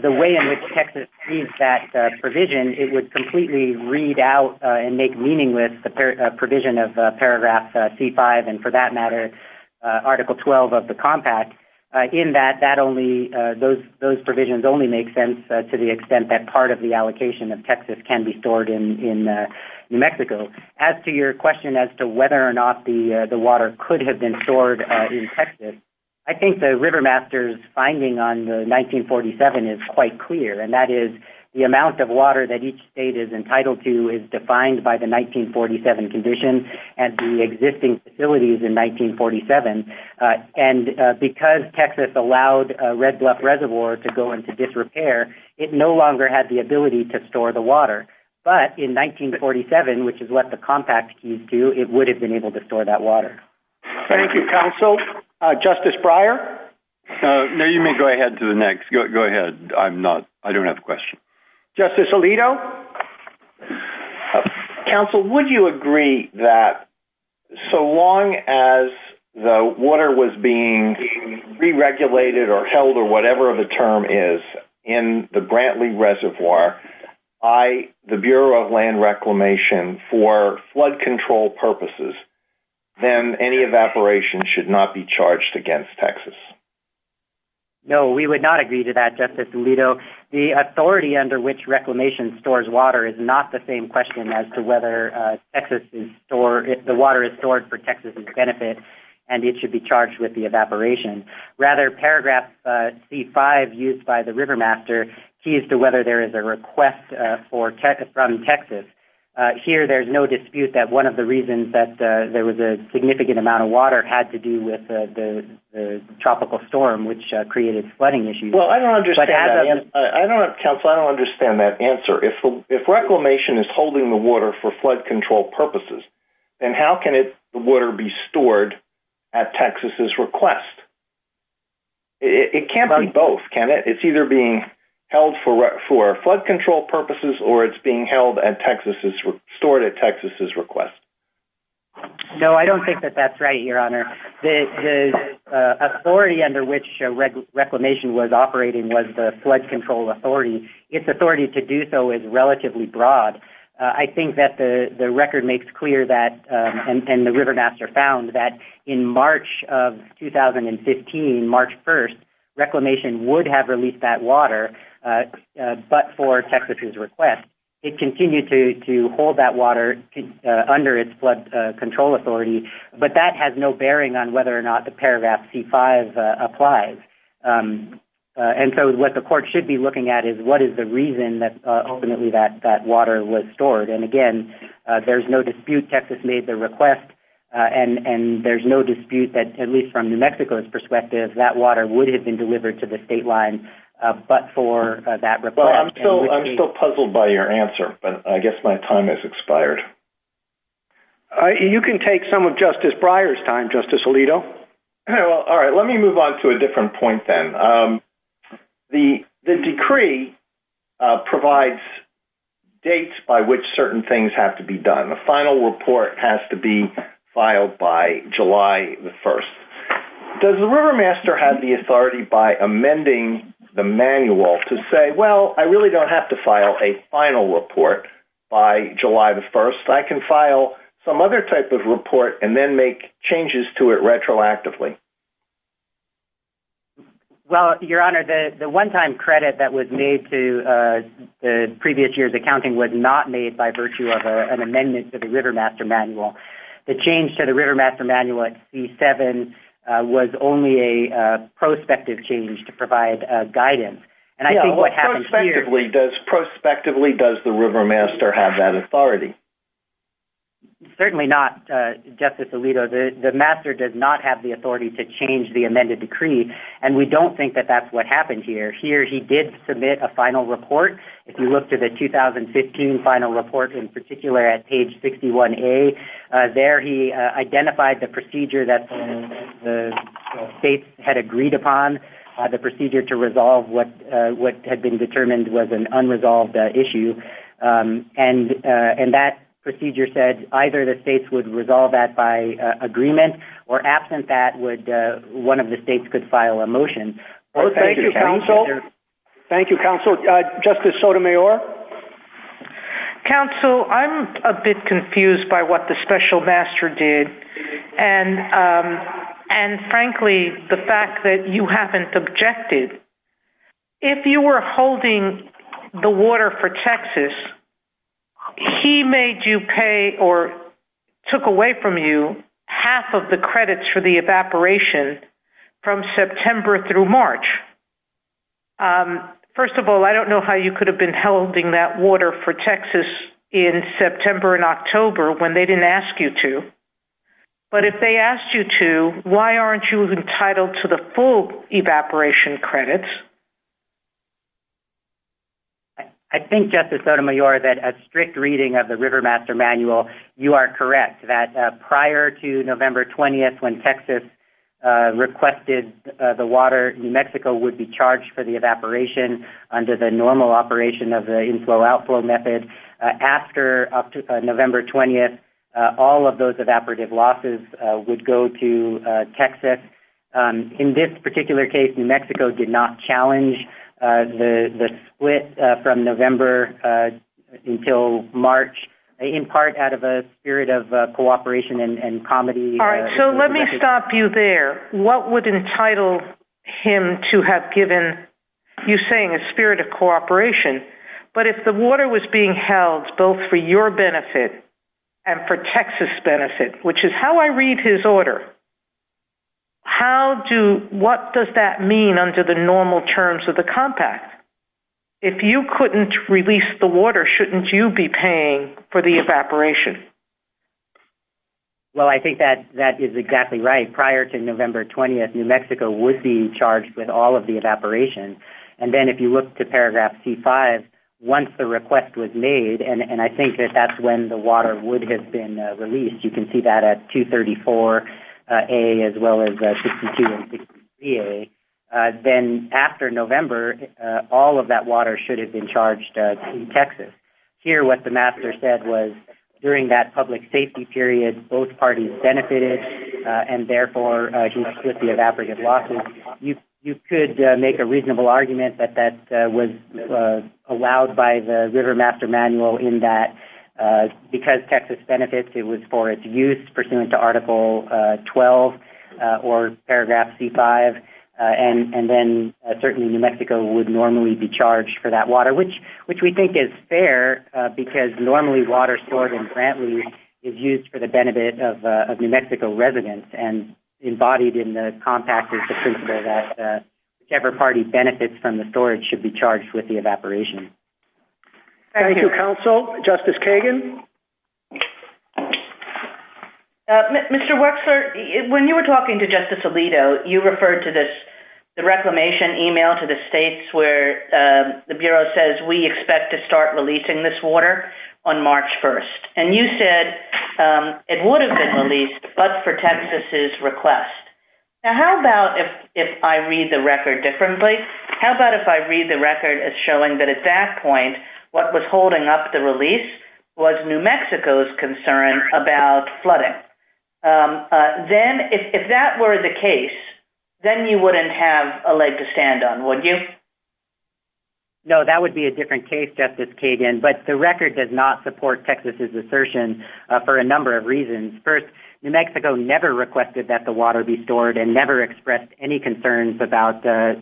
the way in which Texas sees that provision, it would completely read out and make meaning with the provision of paragraph C5, and for that matter, Article 12 of the Compact, in that those provisions only make sense to the extent that part of the allocation of Texas can be stored in New Mexico. As to your question as to whether or not the water could have been stored in Texas, I think the Rivermaster's finding on the 1947 is quite clear. And that is the amount of water that each state is entitled to is defined by the 1947 condition and the existing facilities in 1947. And because Texas allowed Red Bluff Reservoir to go into disrepair, it no longer had the ability to store the water. But in 1947, which is what the Compact keys do, it would have been able to store that water. Thank you, counsel. Justice Breyer? No, you may go ahead to the next. Go ahead. I'm not, I don't have a question. Justice Alito? Counsel, would you agree that so long as the water was being re-regulated or held or whatever the term is in the Brantley Reservoir, by the Bureau of Land Reclamation for flood control purposes, then any evaporation should not be charged against Texas? No, we would not agree to that, Justice Alito. The authority under which reclamation stores water is not the same question as to whether the water is stored for Texas' benefit and it should be charged with the evaporation. Rather, paragraph C-5 used by the river master keys to whether there is a request from Texas. Here, there's no dispute that one of the reasons that there was a significant amount of water had to do with the tropical storm, which created flooding issues. Well, I don't understand that, counsel. I don't understand that answer. If reclamation is holding the water for flood control purposes, then how can the water be stored at Texas' request? It can't be both, can it? It's either being held for flood control purposes or it's being stored at Texas' request. No, I don't think that that's right, Your Honor. The authority under which reclamation was operating was the flood control authority. Its authority to do so is relatively broad. I think that the record makes clear that, and the river master found, that in March of 2015, March 1st, reclamation would have released that water, but for Texas' request. It continued to hold that water under its flood control authority, but that has no bearing on whether or not the paragraph C-5 applies. And so what the court should be looking at is what is the reason that ultimately that water was stored. And again, there's no dispute Texas made the request, and there's no dispute that, at least from New Mexico's perspective, that water would have been delivered to the state line, but for that request. Well, I'm still puzzled by your answer, but I guess my time has expired. You can take some of Justice Breyer's time, Justice Alito. All right, let me move on to a different point then. The decree provides dates by which certain things have to be done. A final report has to be filed by July 1st. Does the river master have the authority by amending the manual to say, well, I really don't have to file a final report by July 1st. I can file some other type of report and then make changes to it retroactively. Well, Your Honor, the one-time credit that was made to the previous year's accounting was not made by virtue of an amendment to the river master manual. The change to the river master manual at C-7 was only a prospective change to provide guidance. And I think what happens here- Yeah, prospectively, does the river master have that authority? Certainly not, Justice Alito. The master does not have the authority to change the amended decree. And we don't think that that's what happened here. Here, he did submit a final report. If you look to the 2015 final report, in particular at page 61A, there he identified the procedure that the states had agreed upon, the procedure to resolve what had been determined was an unresolved issue. And that procedure said either the states would resolve that by agreement or absent that, one of the states could file a motion. Thank you, counsel. Thank you, counsel. Justice Sotomayor? Counsel, I'm a bit confused by what the special master did. And frankly, the fact that you haven't objected. If you were holding the water for Texas, he made you pay or took away from you half of the credits for the evaporation from September through March. First of all, I don't know how you could have been holding that water for Texas in September and October when they didn't ask you to. But if they asked you to, why aren't you entitled to the full evaporation credits? I think, Justice Sotomayor, that a strict reading of the river master manual, you are correct that prior to November 20th, when Texas requested the water, New Mexico would be charged for the evaporation under the normal operation of the inflow-outflow method. After November 20th, all of those evaporative losses would go to Texas. In this particular case, New Mexico did not challenge the split from November until March, in part out of a spirit of cooperation and comedy. All right, so let me stop you there. What would entitle him to have given, you're saying a spirit of cooperation, but if the water was being held both for your benefit and for Texas' benefit, which is how I read his order, what does that mean under the normal terms of the compact? If you couldn't release the water, shouldn't you be paying for the evaporation? Well, I think that is exactly right. Prior to November 20th, New Mexico would be charged with all of the evaporation. And then if you look to paragraph C-5, once the request was made, and I think that that's when the water would have been released, you can see that at 234A as well as 62 and 63A, then after November, all of that water should have been charged in Texas. Here, what the master said was, during that public safety period, both parties benefited and therefore, he split the evaporative losses. You could make a reasonable argument that that was allowed by the river master manual in that because Texas benefits, it was for its use pursuant to article 12 or paragraph C-5. And then certainly New Mexico would normally be charged for that water, which we think is fair because normally water stored in Brantley is used for the benefit of New Mexico residents and embodied in the compact is the principle that whichever party benefits from the storage should be charged with the evaporation. Thank you, counsel. Justice Kagan? Mr. Wexler, when you were talking to Justice Alito, you referred to this, the reclamation email to the states where the Bureau says, we expect to start releasing this water on March 1st. And you said it would have been released but for Texas's request. Now, how about if I read the record differently? How about if I read the record as showing that at that point, what was holding up the release was New Mexico's concern about flooding. If that were the case, then you wouldn't have a leg to stand on, would you? No, that would be a different case, Justice Kagan. But the record does not support Texas's assertion for a number of reasons. First, New Mexico never requested that the water be stored and never expressed any concerns about the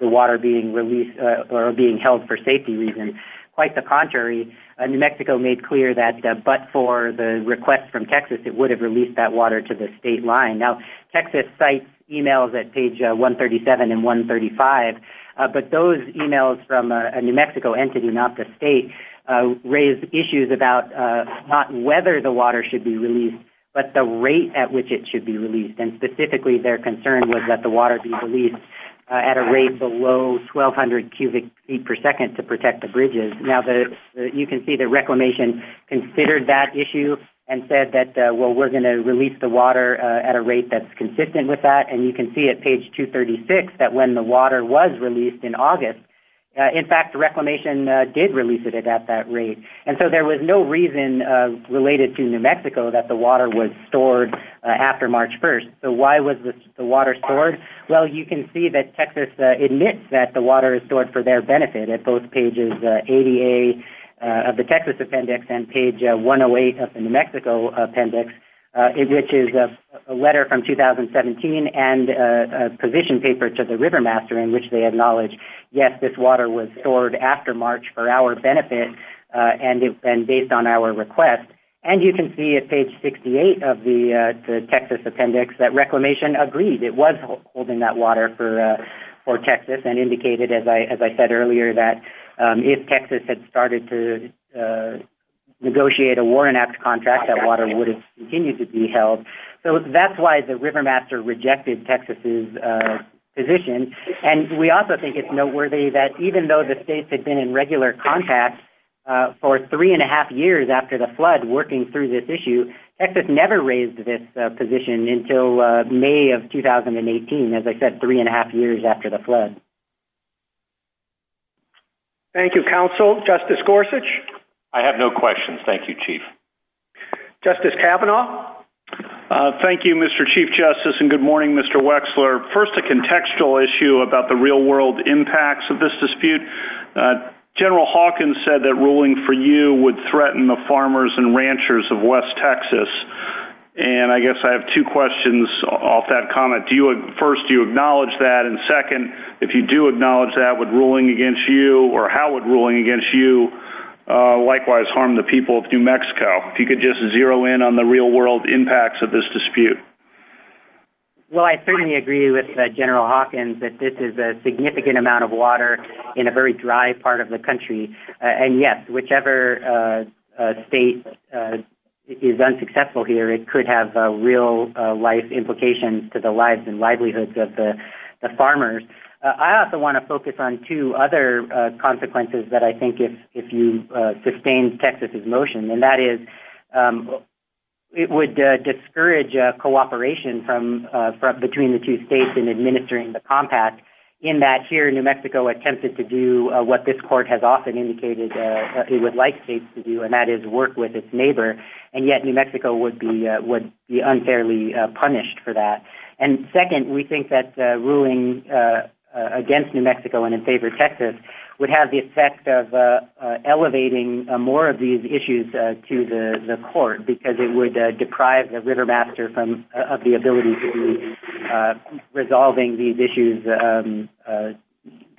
water being released or being held for safety reasons. Quite the contrary, New Mexico made clear that but for the request from Texas, it would have released that water to the state line. Now, Texas sites emails at page 137 and 135, but those emails from a New Mexico entity, not the state, raised issues about not whether the water should be released, but the rate at which it should be released. And specifically their concern was that the water be released at a rate below 1200 cubic feet per second to protect the bridges. Now, you can see the reclamation considered that issue and said that, well, we're gonna release the water at a rate that's consistent with that. And you can see at page 236 that when the water was released in August, in fact, reclamation did release it at that rate. And so there was no reason related to New Mexico that the water was stored after March 1st. So why was the water stored? Well, you can see that Texas admits that the water is stored for their benefit at both pages ADA of the Texas appendix and page 108 of the New Mexico appendix, which is a letter from 2017 and a position paper to the river master in which they acknowledge, yes, this water was stored after March for our benefit and based on our request. And you can see at page 68 of the Texas appendix that reclamation agreed. It was holding that water for Texas and indicated, as I said earlier, if Texas had started to negotiate a war-enacted contract, that water would have continued to be held. So that's why the river master rejected Texas' position. And we also think it's noteworthy that even though the states had been in regular contact for three and a half years after the flood working through this issue, Texas never raised this position until May of 2018. As I said, three and a half years after the flood. Thank you, Counsel. Justice Gorsuch. I have no questions. Thank you, Chief. Justice Kavanaugh. Thank you, Mr. Chief Justice. And good morning, Mr. Wexler. First, a contextual issue about the real-world impacts of this dispute. General Hawkins said that ruling for you would threaten the farmers and ranchers of West Texas. And I guess I have two questions off that comment. First, do you acknowledge that? And second, if you do acknowledge that, what ruling against you or how would ruling against you likewise harm the people of New Mexico? If you could just zero in on the real-world impacts of this dispute. Well, I certainly agree with General Hawkins that this is a significant amount of water in a very dry part of the country. And yes, whichever state is unsuccessful here, it could have real-life implications to the lives and livelihoods of the farmers. I also want to focus on two other consequences that I think if you sustain Texas's motion, and that is it would discourage cooperation between the two states in administering the compact in that here, New Mexico attempted to do what this court has often indicated it would like states to do, and that is work with its neighbor. And yet, New Mexico would be unfairly punished for that. And second, we think that ruling against New Mexico and in favor of Texas would have the effect of elevating more of these issues to the court because it would deprive the river master of the ability to be resolving these issues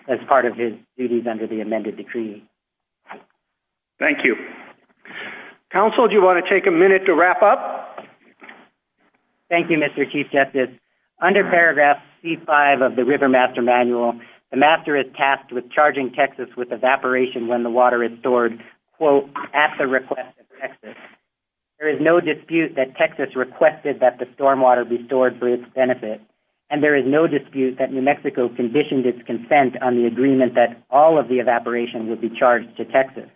as part of his duties under the amended decree. Thank you. Counsel, do you want to take a minute to wrap up? Thank you, Mr. Chief Justice. Under paragraph C5 of the River Master Manual, the master is tasked with charging Texas with evaporation when the water is stored, quote, at the request of Texas. There is no dispute that Texas requested that the stormwater be stored for its benefit. And there is no dispute that New Mexico conditioned its consent on the agreement that all of the evaporation would be charged to Texas.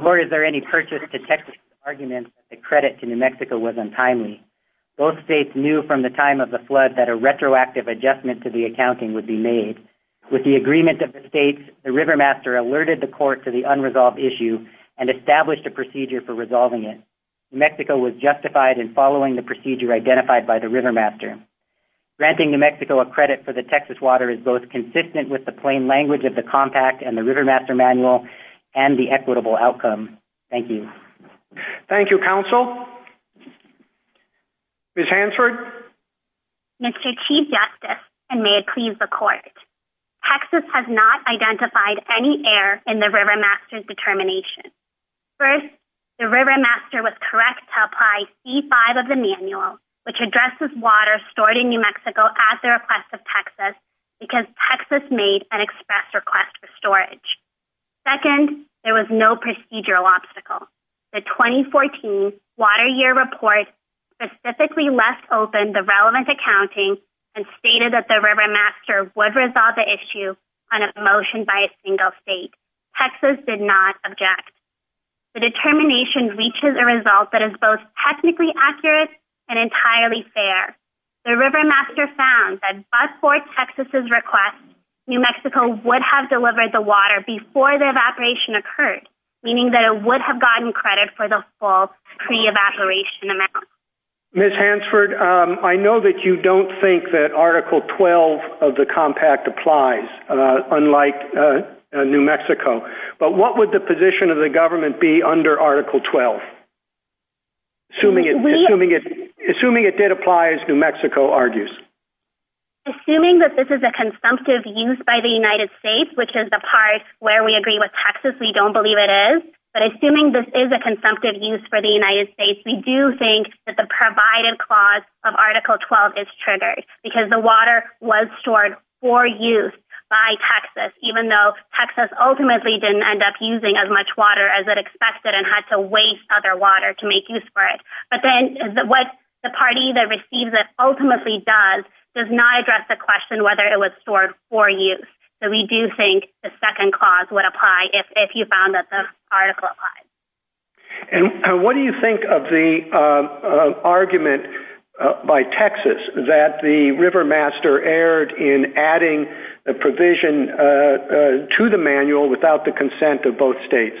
Nor is there any purchase to Texas' argument that the credit to New Mexico was untimely. Both states knew from the time of the flood that a retroactive adjustment to the accounting would be made. With the agreement of the states, the river master alerted the court to the unresolved issue and established a procedure for resolving it. New Mexico was justified in following the procedure identified by the river master. Granting New Mexico a credit for the Texas water is both consistent with the plain language of the compact and the River Master Manual and the equitable outcome. Thank you. Thank you, counsel. Ms. Hansford. Mr. Chief Justice, and may it please the court. Texas has not identified any error in the River Master's determination. First, the River Master was correct to apply C-5 of the manual, which addresses water stored in New Mexico at the request of Texas because Texas made an express request for storage. Second, there was no procedural obstacle. The 2014 Water Year Report specifically left open the relevant accounting and stated that the River Master would resolve the issue on a motion by a single state. Texas did not object. The determination reaches a result that is both technically accurate and entirely fair. The River Master found that but for Texas's request, New Mexico would have delivered the water before the evaporation occurred, meaning that it would have gotten credit for the full pre-evaporation amount. Ms. Hansford, I know that you don't think that Article 12 of the compact applies, unlike New Mexico, but what would the position of the government be under Article 12? Assuming it did apply as New Mexico argues. Assuming that this is a consumptive use by the United States, which is the part where we agree with Texas, we don't believe it is, but assuming this is a consumptive use for the United States, we do think that the provided clause of Article 12 is triggered because the water was stored for use by Texas, even though Texas ultimately didn't end up using as much water as it expected and had to waste other water to make use for it. But then what the party that receives it ultimately does does not address the question whether it was stored for use. So we do think the second clause would apply if you found that the article applies. And what do you think of the argument by Texas that the Rivermaster erred in adding the provision to the manual without the consent of both states?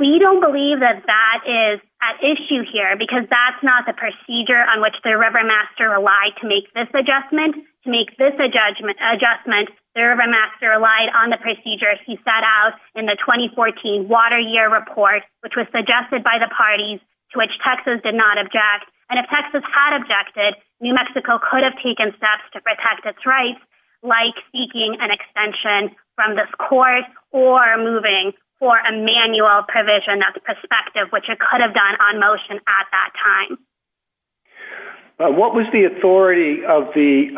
We don't believe that that is at issue here because that's not the procedure on which the Rivermaster relied to make this adjustment. To make this adjustment, the Rivermaster relied on the procedure he set out in the 2014 Water Year Report, which was suggested by the parties to which Texas did not object. And if Texas had objected, New Mexico could have taken steps to protect its rights, like seeking an extension from this court or moving for a manual provision that's prospective, which it could have done on motion at that time. What was the authority of the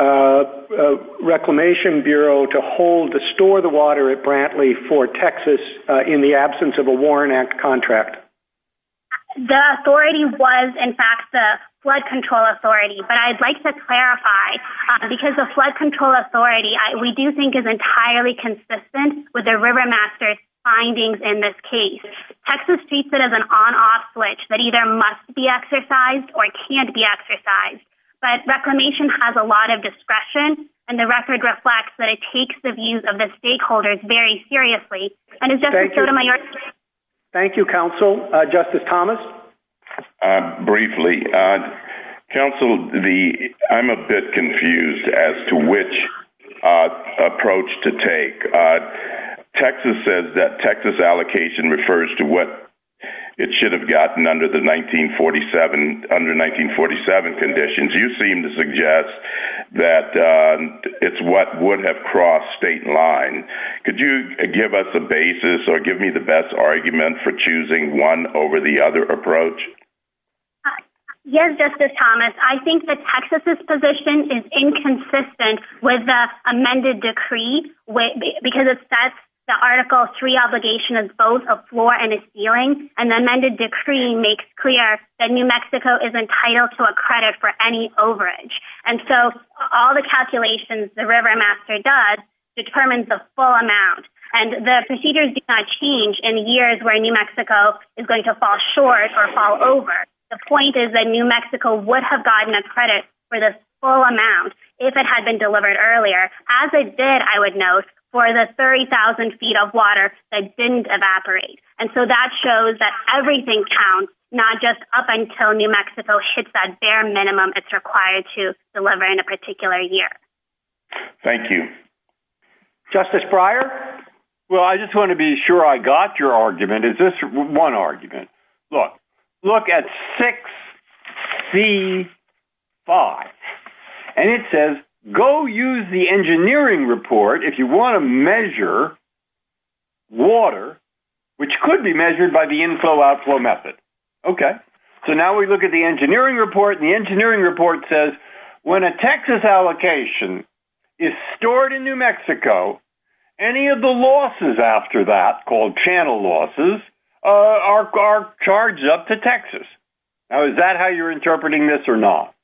Reclamation Bureau to hold, to store the water at Brantley for Texas in the absence of a Warren Act contract? The authority was, in fact, the Flood Control Authority. But I'd like to clarify, because the Flood Control Authority, we do think is entirely consistent with the Rivermaster's findings in this case. Texas treats it as an on-off switch that either must be exercised or can't be exercised. But Reclamation has a lot of discretion and the record reflects that it takes the views of the stakeholders very seriously. And it's just a sort of minority. Thank you, Counsel. Justice Thomas? Briefly, Counsel, I'm a bit confused as to which approach to take. Texas says that Texas allocation refers to what it should have gotten under the 1947 conditions. You seem to suggest that it's what would have crossed state line. Could you give us the basis or give me the best argument for choosing one over the other approach? Yes, Justice Thomas. I think that Texas's position because it sets the Article III obligation as both a floor and a ceiling. An amended decree makes clear that New Mexico is entitled to a credit for any overage. And so all the calculations the Rivermaster does determines the full amount. And the procedures do not change in years where New Mexico is going to fall short or fall over. The point is that New Mexico would have gotten a credit for the full amount if it had been delivered earlier, as it did, I would note, for the 30,000 feet of water that didn't evaporate. And so that shows that everything counts, not just up until New Mexico hits that bare minimum it's required to deliver in a particular year. Thank you. Justice Breyer. Well, I just want to be sure I got your argument. Is this one argument? Look, look at 6C5 and it says, go use the engineering report if you want to measure water, which could be measured by the inflow outflow method. OK, so now we look at the engineering report. The engineering report says when a Texas allocation is stored in New Mexico, any of the losses after that called channel losses are charged up to Texas. Now, is that how you're interpreting this or not?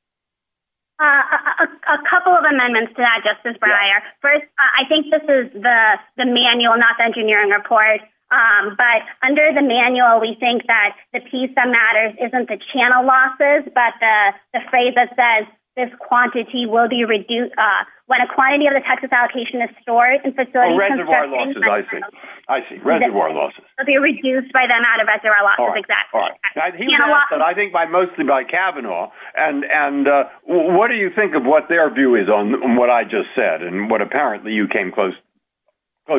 A couple of amendments to that, Justice Breyer. First, I think this is the manual, not the engineering report. But under the manual, we think that the piece that matters isn't the channel losses, but the phrase that says this quantity will be reduced when a quantity of the Texas allocation is stored and facilitated. Well, reservoir losses, I think. I see, reservoir losses. Will be reduced by the amount of reservoir losses, exactly. All right. I think mostly by Kavanaugh. And what do you think of what their view is on what I just said and what apparently you came close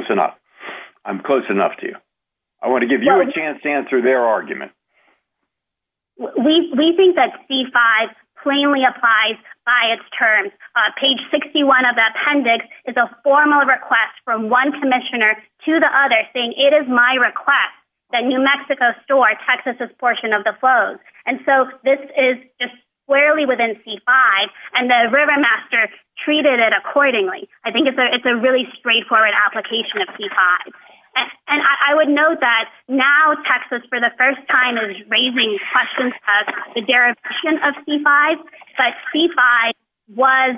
enough. I'm close enough to you. I want to give you a chance to answer their argument. We think that C-5 plainly applies by its terms. Page 61 of the appendix is a formal request from one commissioner to the other saying it is my request that New Mexico store Texas's portion of the flows. And so this is squarely within C-5 and the river master treated it accordingly. I think it's a really straightforward application of C-5. And I would note that now Texas for the first time is raising questions about the derivation of C-5. But C-5 was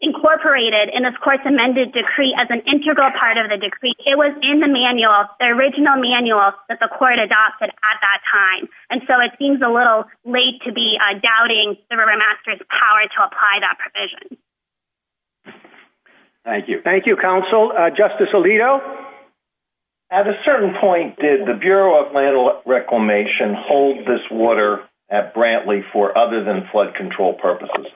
incorporated and of course amended decree as an integral part of the decree. It was in the manual, the original manual that the court adopted at that time. And so it seems a little late to be doubting the river master's power to apply that provision. Thank you. Thank you, counsel. Justice Alito, at a certain point, did the Bureau of Land Reclamation hold this water at Brantley for other than flood control purposes?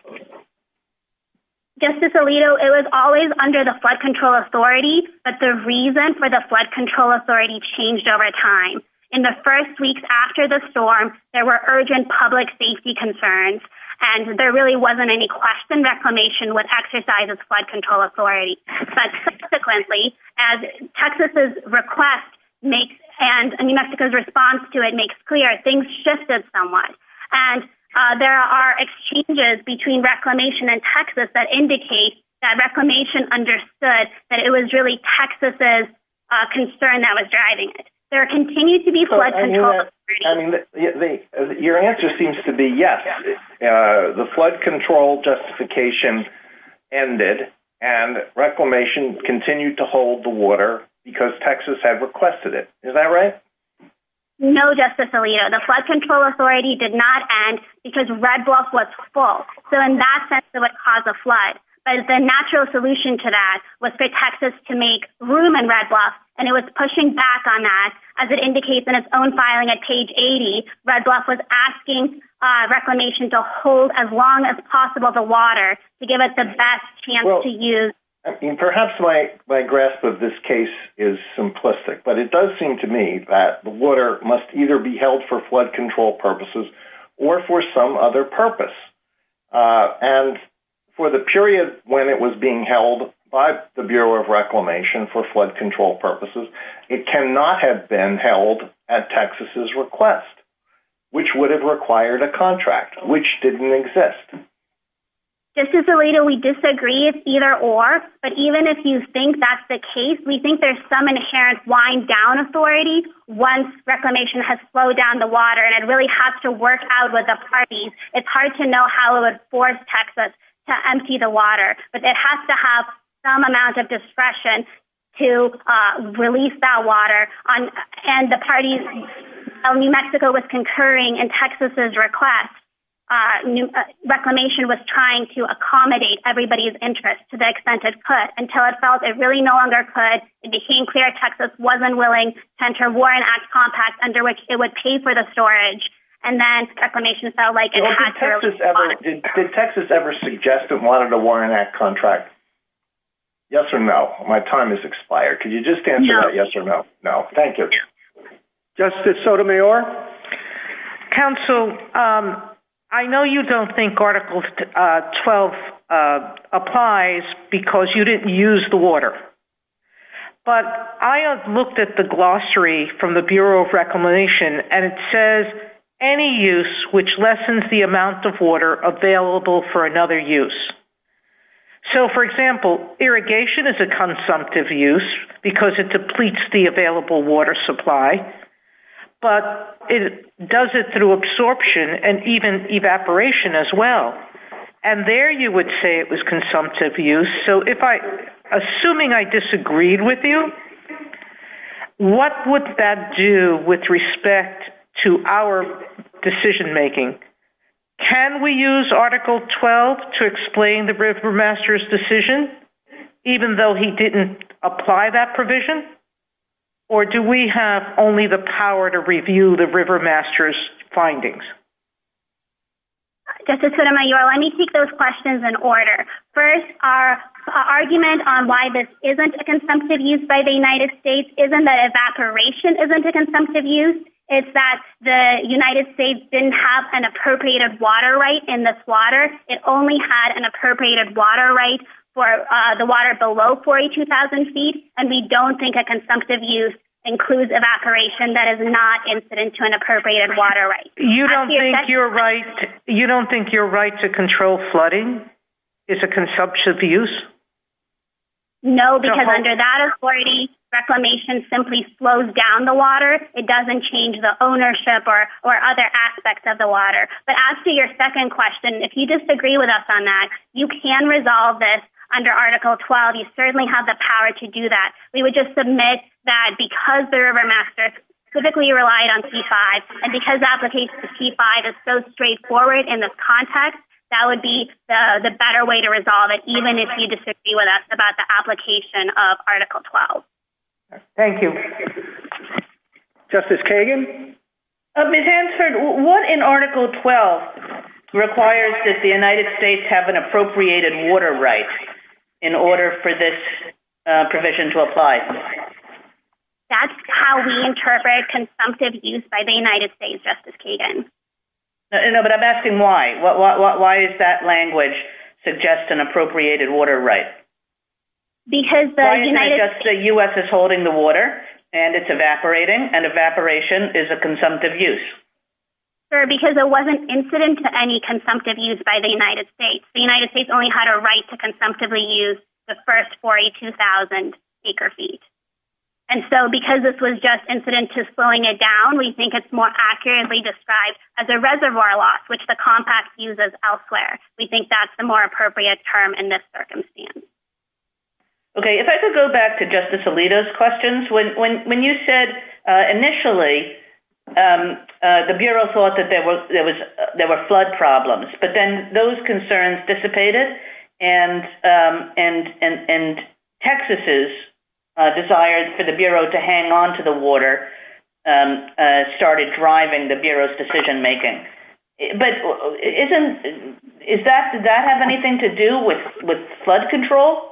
Justice Alito, it was always under the flood control authority, but the reason for the flood control authority changed over time. In the first weeks after the storm, there were urgent public safety concerns and there really wasn't any question reclamation with exercises flood control authority. But subsequently, as Texas' request makes and New Mexico's response to it makes clear, things shifted somewhat. And there are exchanges between reclamation and Texas that indicate that reclamation understood that it was really Texas' concern that was driving it. There continues to be flood control. Your answer seems to be yes. The flood control justification ended and reclamation continued to hold the water because Texas had requested it. Is that right? No, Justice Alito, the flood control authority did not end because Red Bluff was full. So in that sense, it would cause a flood. But the natural solution to that was for Texas to make room in Red Bluff. And it was pushing back on that as it indicates in its own filing at page 80. Red Bluff was asking reclamation to hold as long as possible the water to give it the best chance to use. Perhaps my grasp of this case is simplistic. But it does seem to me that the water must either be held for flood control purposes or for some other purpose. And for the period when it was being held by the Bureau of Reclamation for flood control purposes, it cannot have been held at Texas' request, which would have required a contract, which didn't exist. Justice Alito, we disagree it's either or. But even if you think that's the case, we think there's some inherent wind down authority once reclamation has slowed down the water. And it really has to work out with the parties. It's hard to know how it would force Texas to empty the water. But it has to have some amount of discretion to release that water. And the parties of New Mexico was concurring in Texas' request. New Reclamation was trying to accommodate everybody's interest to the extent it could until it felt it really no longer could. It became clear Texas wasn't willing to enter a Warren Act contract under which it would pay for the storage. And then Reclamation felt like Texas ever did Texas ever suggest it wanted a Warren Act contract? Yes or no. My time has expired. Can you just answer that yes or no? No, thank you. Justice Sotomayor. Counsel, I know you don't think Article 12 applies because you didn't use the water. But I have looked at the glossary from the Bureau of Reclamation and it says any use which lessens the amount of water available for another use. So, for example, irrigation is a consumptive use because it depletes the available water supply. But it does it through absorption and even evaporation as well. And there you would say it was consumptive use. So if I assuming I disagreed with you, what would that do with respect to our decision making? Can we use Article 12 to explain the river master's decision, even though he didn't apply that provision? Or do we have only the power to review the river master's findings? Justice Sotomayor, let me take those questions in order. First, our argument on why this isn't a consumptive use by the United States isn't that evaporation isn't a consumptive use. It's that the United States didn't have an appropriated water right in this water. It only had an appropriated water right for the water below 42,000 feet. And we don't think a consumptive use includes evaporation. That is not incident to an appropriated water right. You don't think you're right. You don't think your right to control flooding is a consumptive use? No, because under that authority, reclamation simply slows down the water. It doesn't change the ownership or or other aspects of the water. But as to your second question, if you disagree with us on that, you can resolve this under Article 12. You certainly have the power to do that. We would just submit that because the river master specifically relied on T5 and because the application of T5 is so straightforward in this context, that would be the better way to resolve it, even if you disagree with us about the application of Article 12. Thank you. Justice Kagan? Ms. Hansford, what in Article 12 requires that the United States have an appropriated water right in order for this provision to apply? That's how we interpret consumptive use by the United States, Justice Kagan. But I'm asking why? Why is that language suggests an appropriated water right? Because the U.S. is holding the water and it's evaporating and evaporation is a consumptive use. Sir, because it wasn't incident to any consumptive use by the United States. The United States only had a right to consumptively use the first 42,000 acre feet. And so because this was just incident to slowing it down, we think it's more accurately described as a reservoir loss, which the compact uses elsewhere. We think that's the more appropriate term in this circumstance. OK, if I could go back to Justice Alito's questions. When you said initially the Bureau thought that there was there were flood problems, but then those concerns dissipated. And and and Texas's desire for the Bureau to hang on to the water started driving the Bureau's decision making. But isn't is that did that have anything to do with with flood control?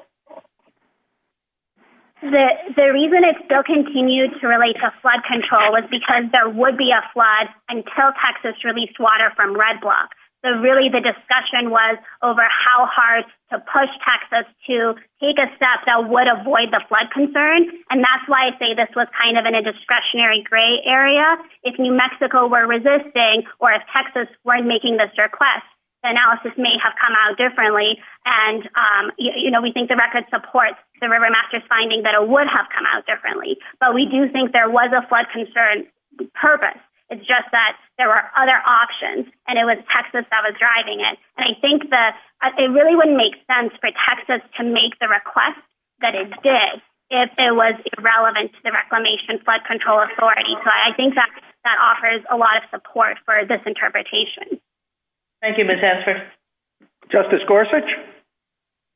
The reason it still continued to relate to flood control is because there would be a flood until Texas released water from Red Block. So really, the discussion was over how hard to push Texas to take a step that would avoid the flood concern. And that's why I say this was kind of in a discretionary gray area. If New Mexico were resisting or if Texas weren't making this request, the analysis may have come out differently. And, you know, we think the record supports the Rivermaster's finding that it would have come out differently. But we do think there was a flood concern purpose. It's just that there were other options and it was Texas that was driving it. And I think that it really wouldn't make sense for Texas to make the request that it did if it was irrelevant to the Reclamation Flood Control Authority. So I think that that offers a lot of support for this interpretation. Thank you, Ms. Hester. Justice Gorsuch?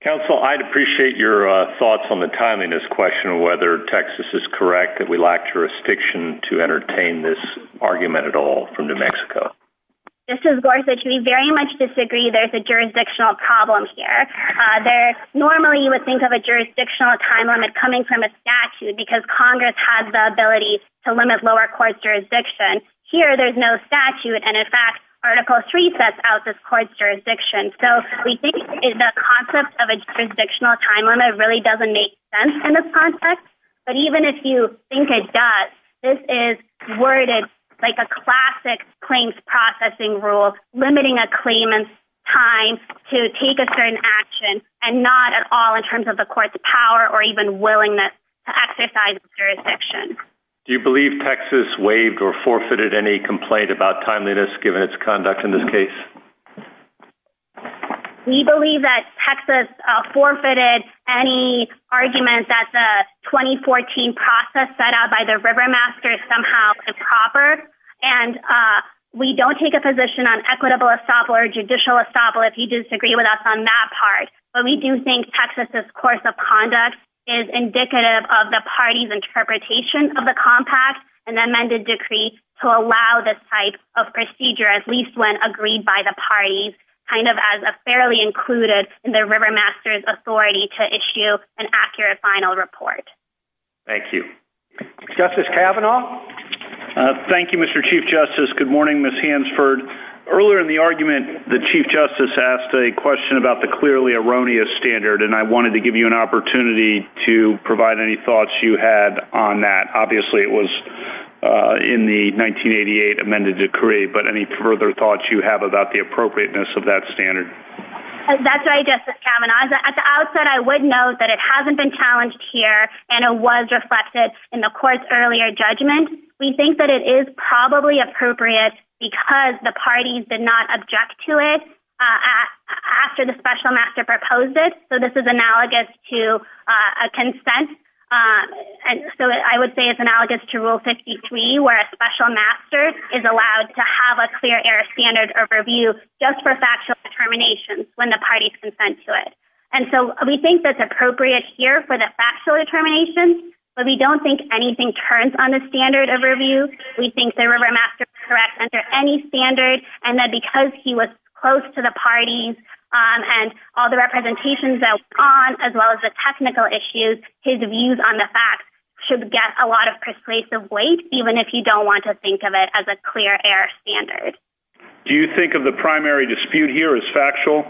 Counsel, I'd appreciate your thoughts on the timing of this question, whether Texas is correct, that we lack jurisdiction to entertain this argument at all from New Mexico. Justice Gorsuch, we very much disagree there's a jurisdictional problem here. Normally, you would think of a jurisdictional time limit coming from a statute because Congress has the ability to limit lower court's jurisdiction. Here, there's no statute. And in fact, Article III sets out this court's jurisdiction. So we think the concept of a jurisdictional time limit really doesn't make sense in this context. But even if you think it does, this is worded like a classic claims processing rule, limiting a claimant's time to take a certain action and not at all in terms of the court's power or even willingness to exercise jurisdiction. Do you believe Texas waived or forfeited any complaint about timeliness given its conduct in this case? We believe that Texas forfeited any argument that the 2014 process set out by the Rivermasters somehow improper. And we don't take a position on equitable estoppel or judicial estoppel if you disagree with us on that part. But we do think Texas' course of conduct is indicative of the party's interpretation of the compact and amended decree to allow this type of procedure, at least when agreed by the parties, kind of as a fairly included in the Rivermasters' authority to issue an accurate final report. Thank you. Justice Kavanaugh. Thank you, Mr. Chief Justice. Good morning, Ms. Hansford. Earlier in the argument, the Chief Justice asked a question about the clearly erroneous standard, and I wanted to give you an opportunity to provide any thoughts you had on that. Obviously, it was in the 1988 amended decree, but any further thoughts you have about the appropriateness of that standard? That's right, Justice Kavanaugh. At the outset, I would note that it hasn't been challenged here and it was reflected in the court's earlier judgment. We think that it is probably appropriate because the parties did not object to it after the special master proposed it. So this is analogous to a consent. I would say it's analogous to Rule 63, where a special master is allowed to have a clear error standard of review just for factual determination when the party consents to it. And so we think that's appropriate here for the factual determination, but we don't think anything turns on the standard of review. We think the Rivermasters correct under any standard and that because he was close to the parties and all the representations that went on, as well as the technical issues, his views on the facts should get a lot of persuasive weight, even if you don't want to think of it as a clear error standard. Do you think of the primary dispute here as factual?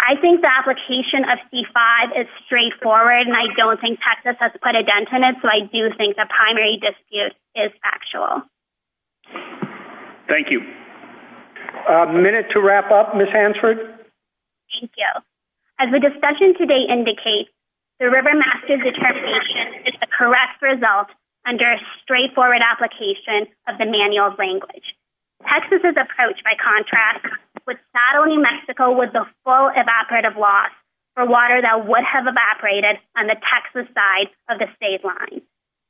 I think the application of C-5 is straightforward and I don't think Texas has put a dent in it. So I do think the primary dispute is factual. Thank you. A minute to wrap up, Ms. Hansford. Thank you. As the discussion today indicates, the Rivermaster determination is the correct result under a straightforward application of the manual language. Texas's approach, by contrast, would saddle New Mexico with the full evaporative loss for water that would have evaporated on the Texas side of the state line.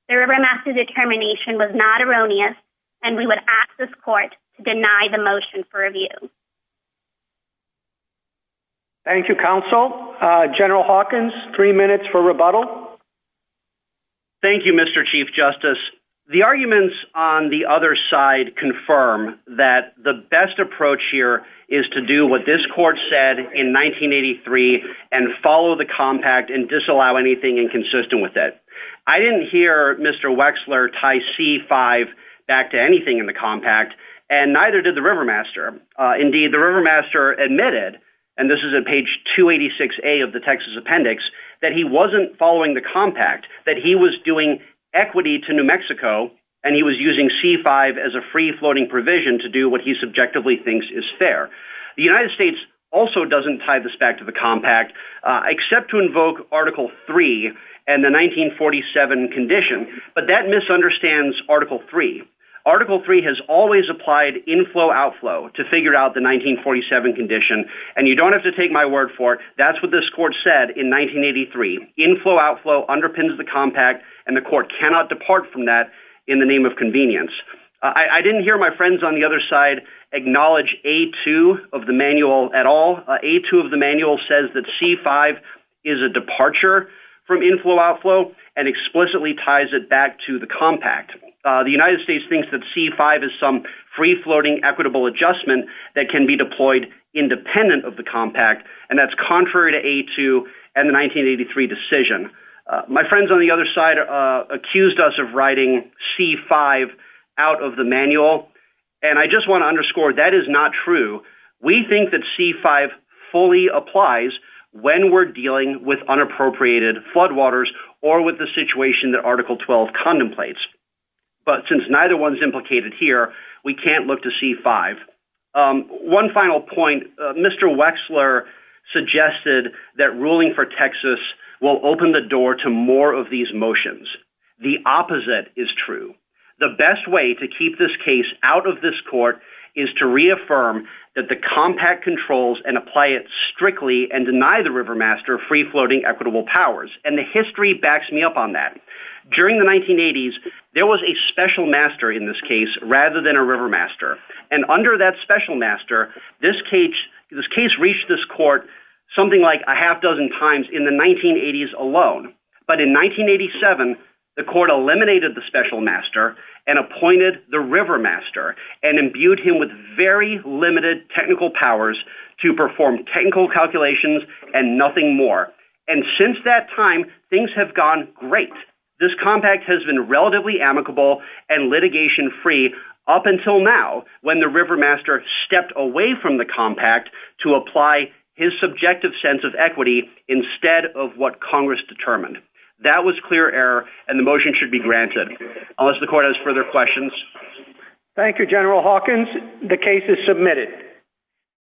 The Rivermaster determination was not erroneous and we would ask this court to deny the motion for review. Thank you, counsel. General Hawkins, three minutes for rebuttal. Thank you, Mr. Chief Justice. The arguments on the other side confirm that the best approach here is to do what this court said in 1983 and follow the compact and disallow anything inconsistent with it. I didn't hear Mr. Wexler tie C-5 back to anything in the compact and neither did the Rivermaster. Indeed, the Rivermaster admitted, and this is on page 286A of the Texas appendix, that he wasn't following the compact, that he was doing equity to New Mexico and he was using C-5 as a free-floating provision to do what he subjectively thinks is fair. The United States also doesn't tie this back to the compact except to invoke Article 3 and the 1947 condition, but that misunderstands Article 3. Article 3 has always applied inflow-outflow to figure out the 1947 condition, and you don't have to take my word for it. That's what this court said in 1983. Inflow-outflow underpins the compact and the court cannot depart from that in the name of convenience. I didn't hear my friends on the other side acknowledge A-2 of the manual at all. A-2 of the manual says that C-5 is a departure from inflow-outflow and explicitly ties it back to the compact. The United States thinks that C-5 is some free-floating equitable adjustment that can be deployed independent of the compact and that's contrary to A-2 and the 1983 decision. My friends on the other side accused us of writing C-5 out of the manual and I just want to underscore that is not true. We think that C-5 fully applies when we're dealing with unappropriated floodwaters or with the situation that Article 12 contemplates, but since neither one's implicated here, we can't look to C-5. One final point, Mr. Wexler suggested that ruling for Texas will open the door to more of these motions. The opposite is true. The best way to keep this case out of this court is to reaffirm that the compact controls and apply it strictly and deny the river master free-floating equitable powers and the history backs me up on that. During the 1980s, there was a special master in this case rather than a river master and under that special master, this case reached this court something like a half dozen times in the 1980s alone, but in 1987, the court eliminated the special master and appointed the river master and imbued him with very limited technical powers to perform technical calculations and nothing more. And since that time, things have gone great. This compact has been relatively amicable and litigation free up until now when the river master stepped away from the compact to apply his subjective sense of equity instead of what Congress determined. That was clear error and the motion should be granted unless the court has further questions. Thank you, General Hawkins. The case is submitted.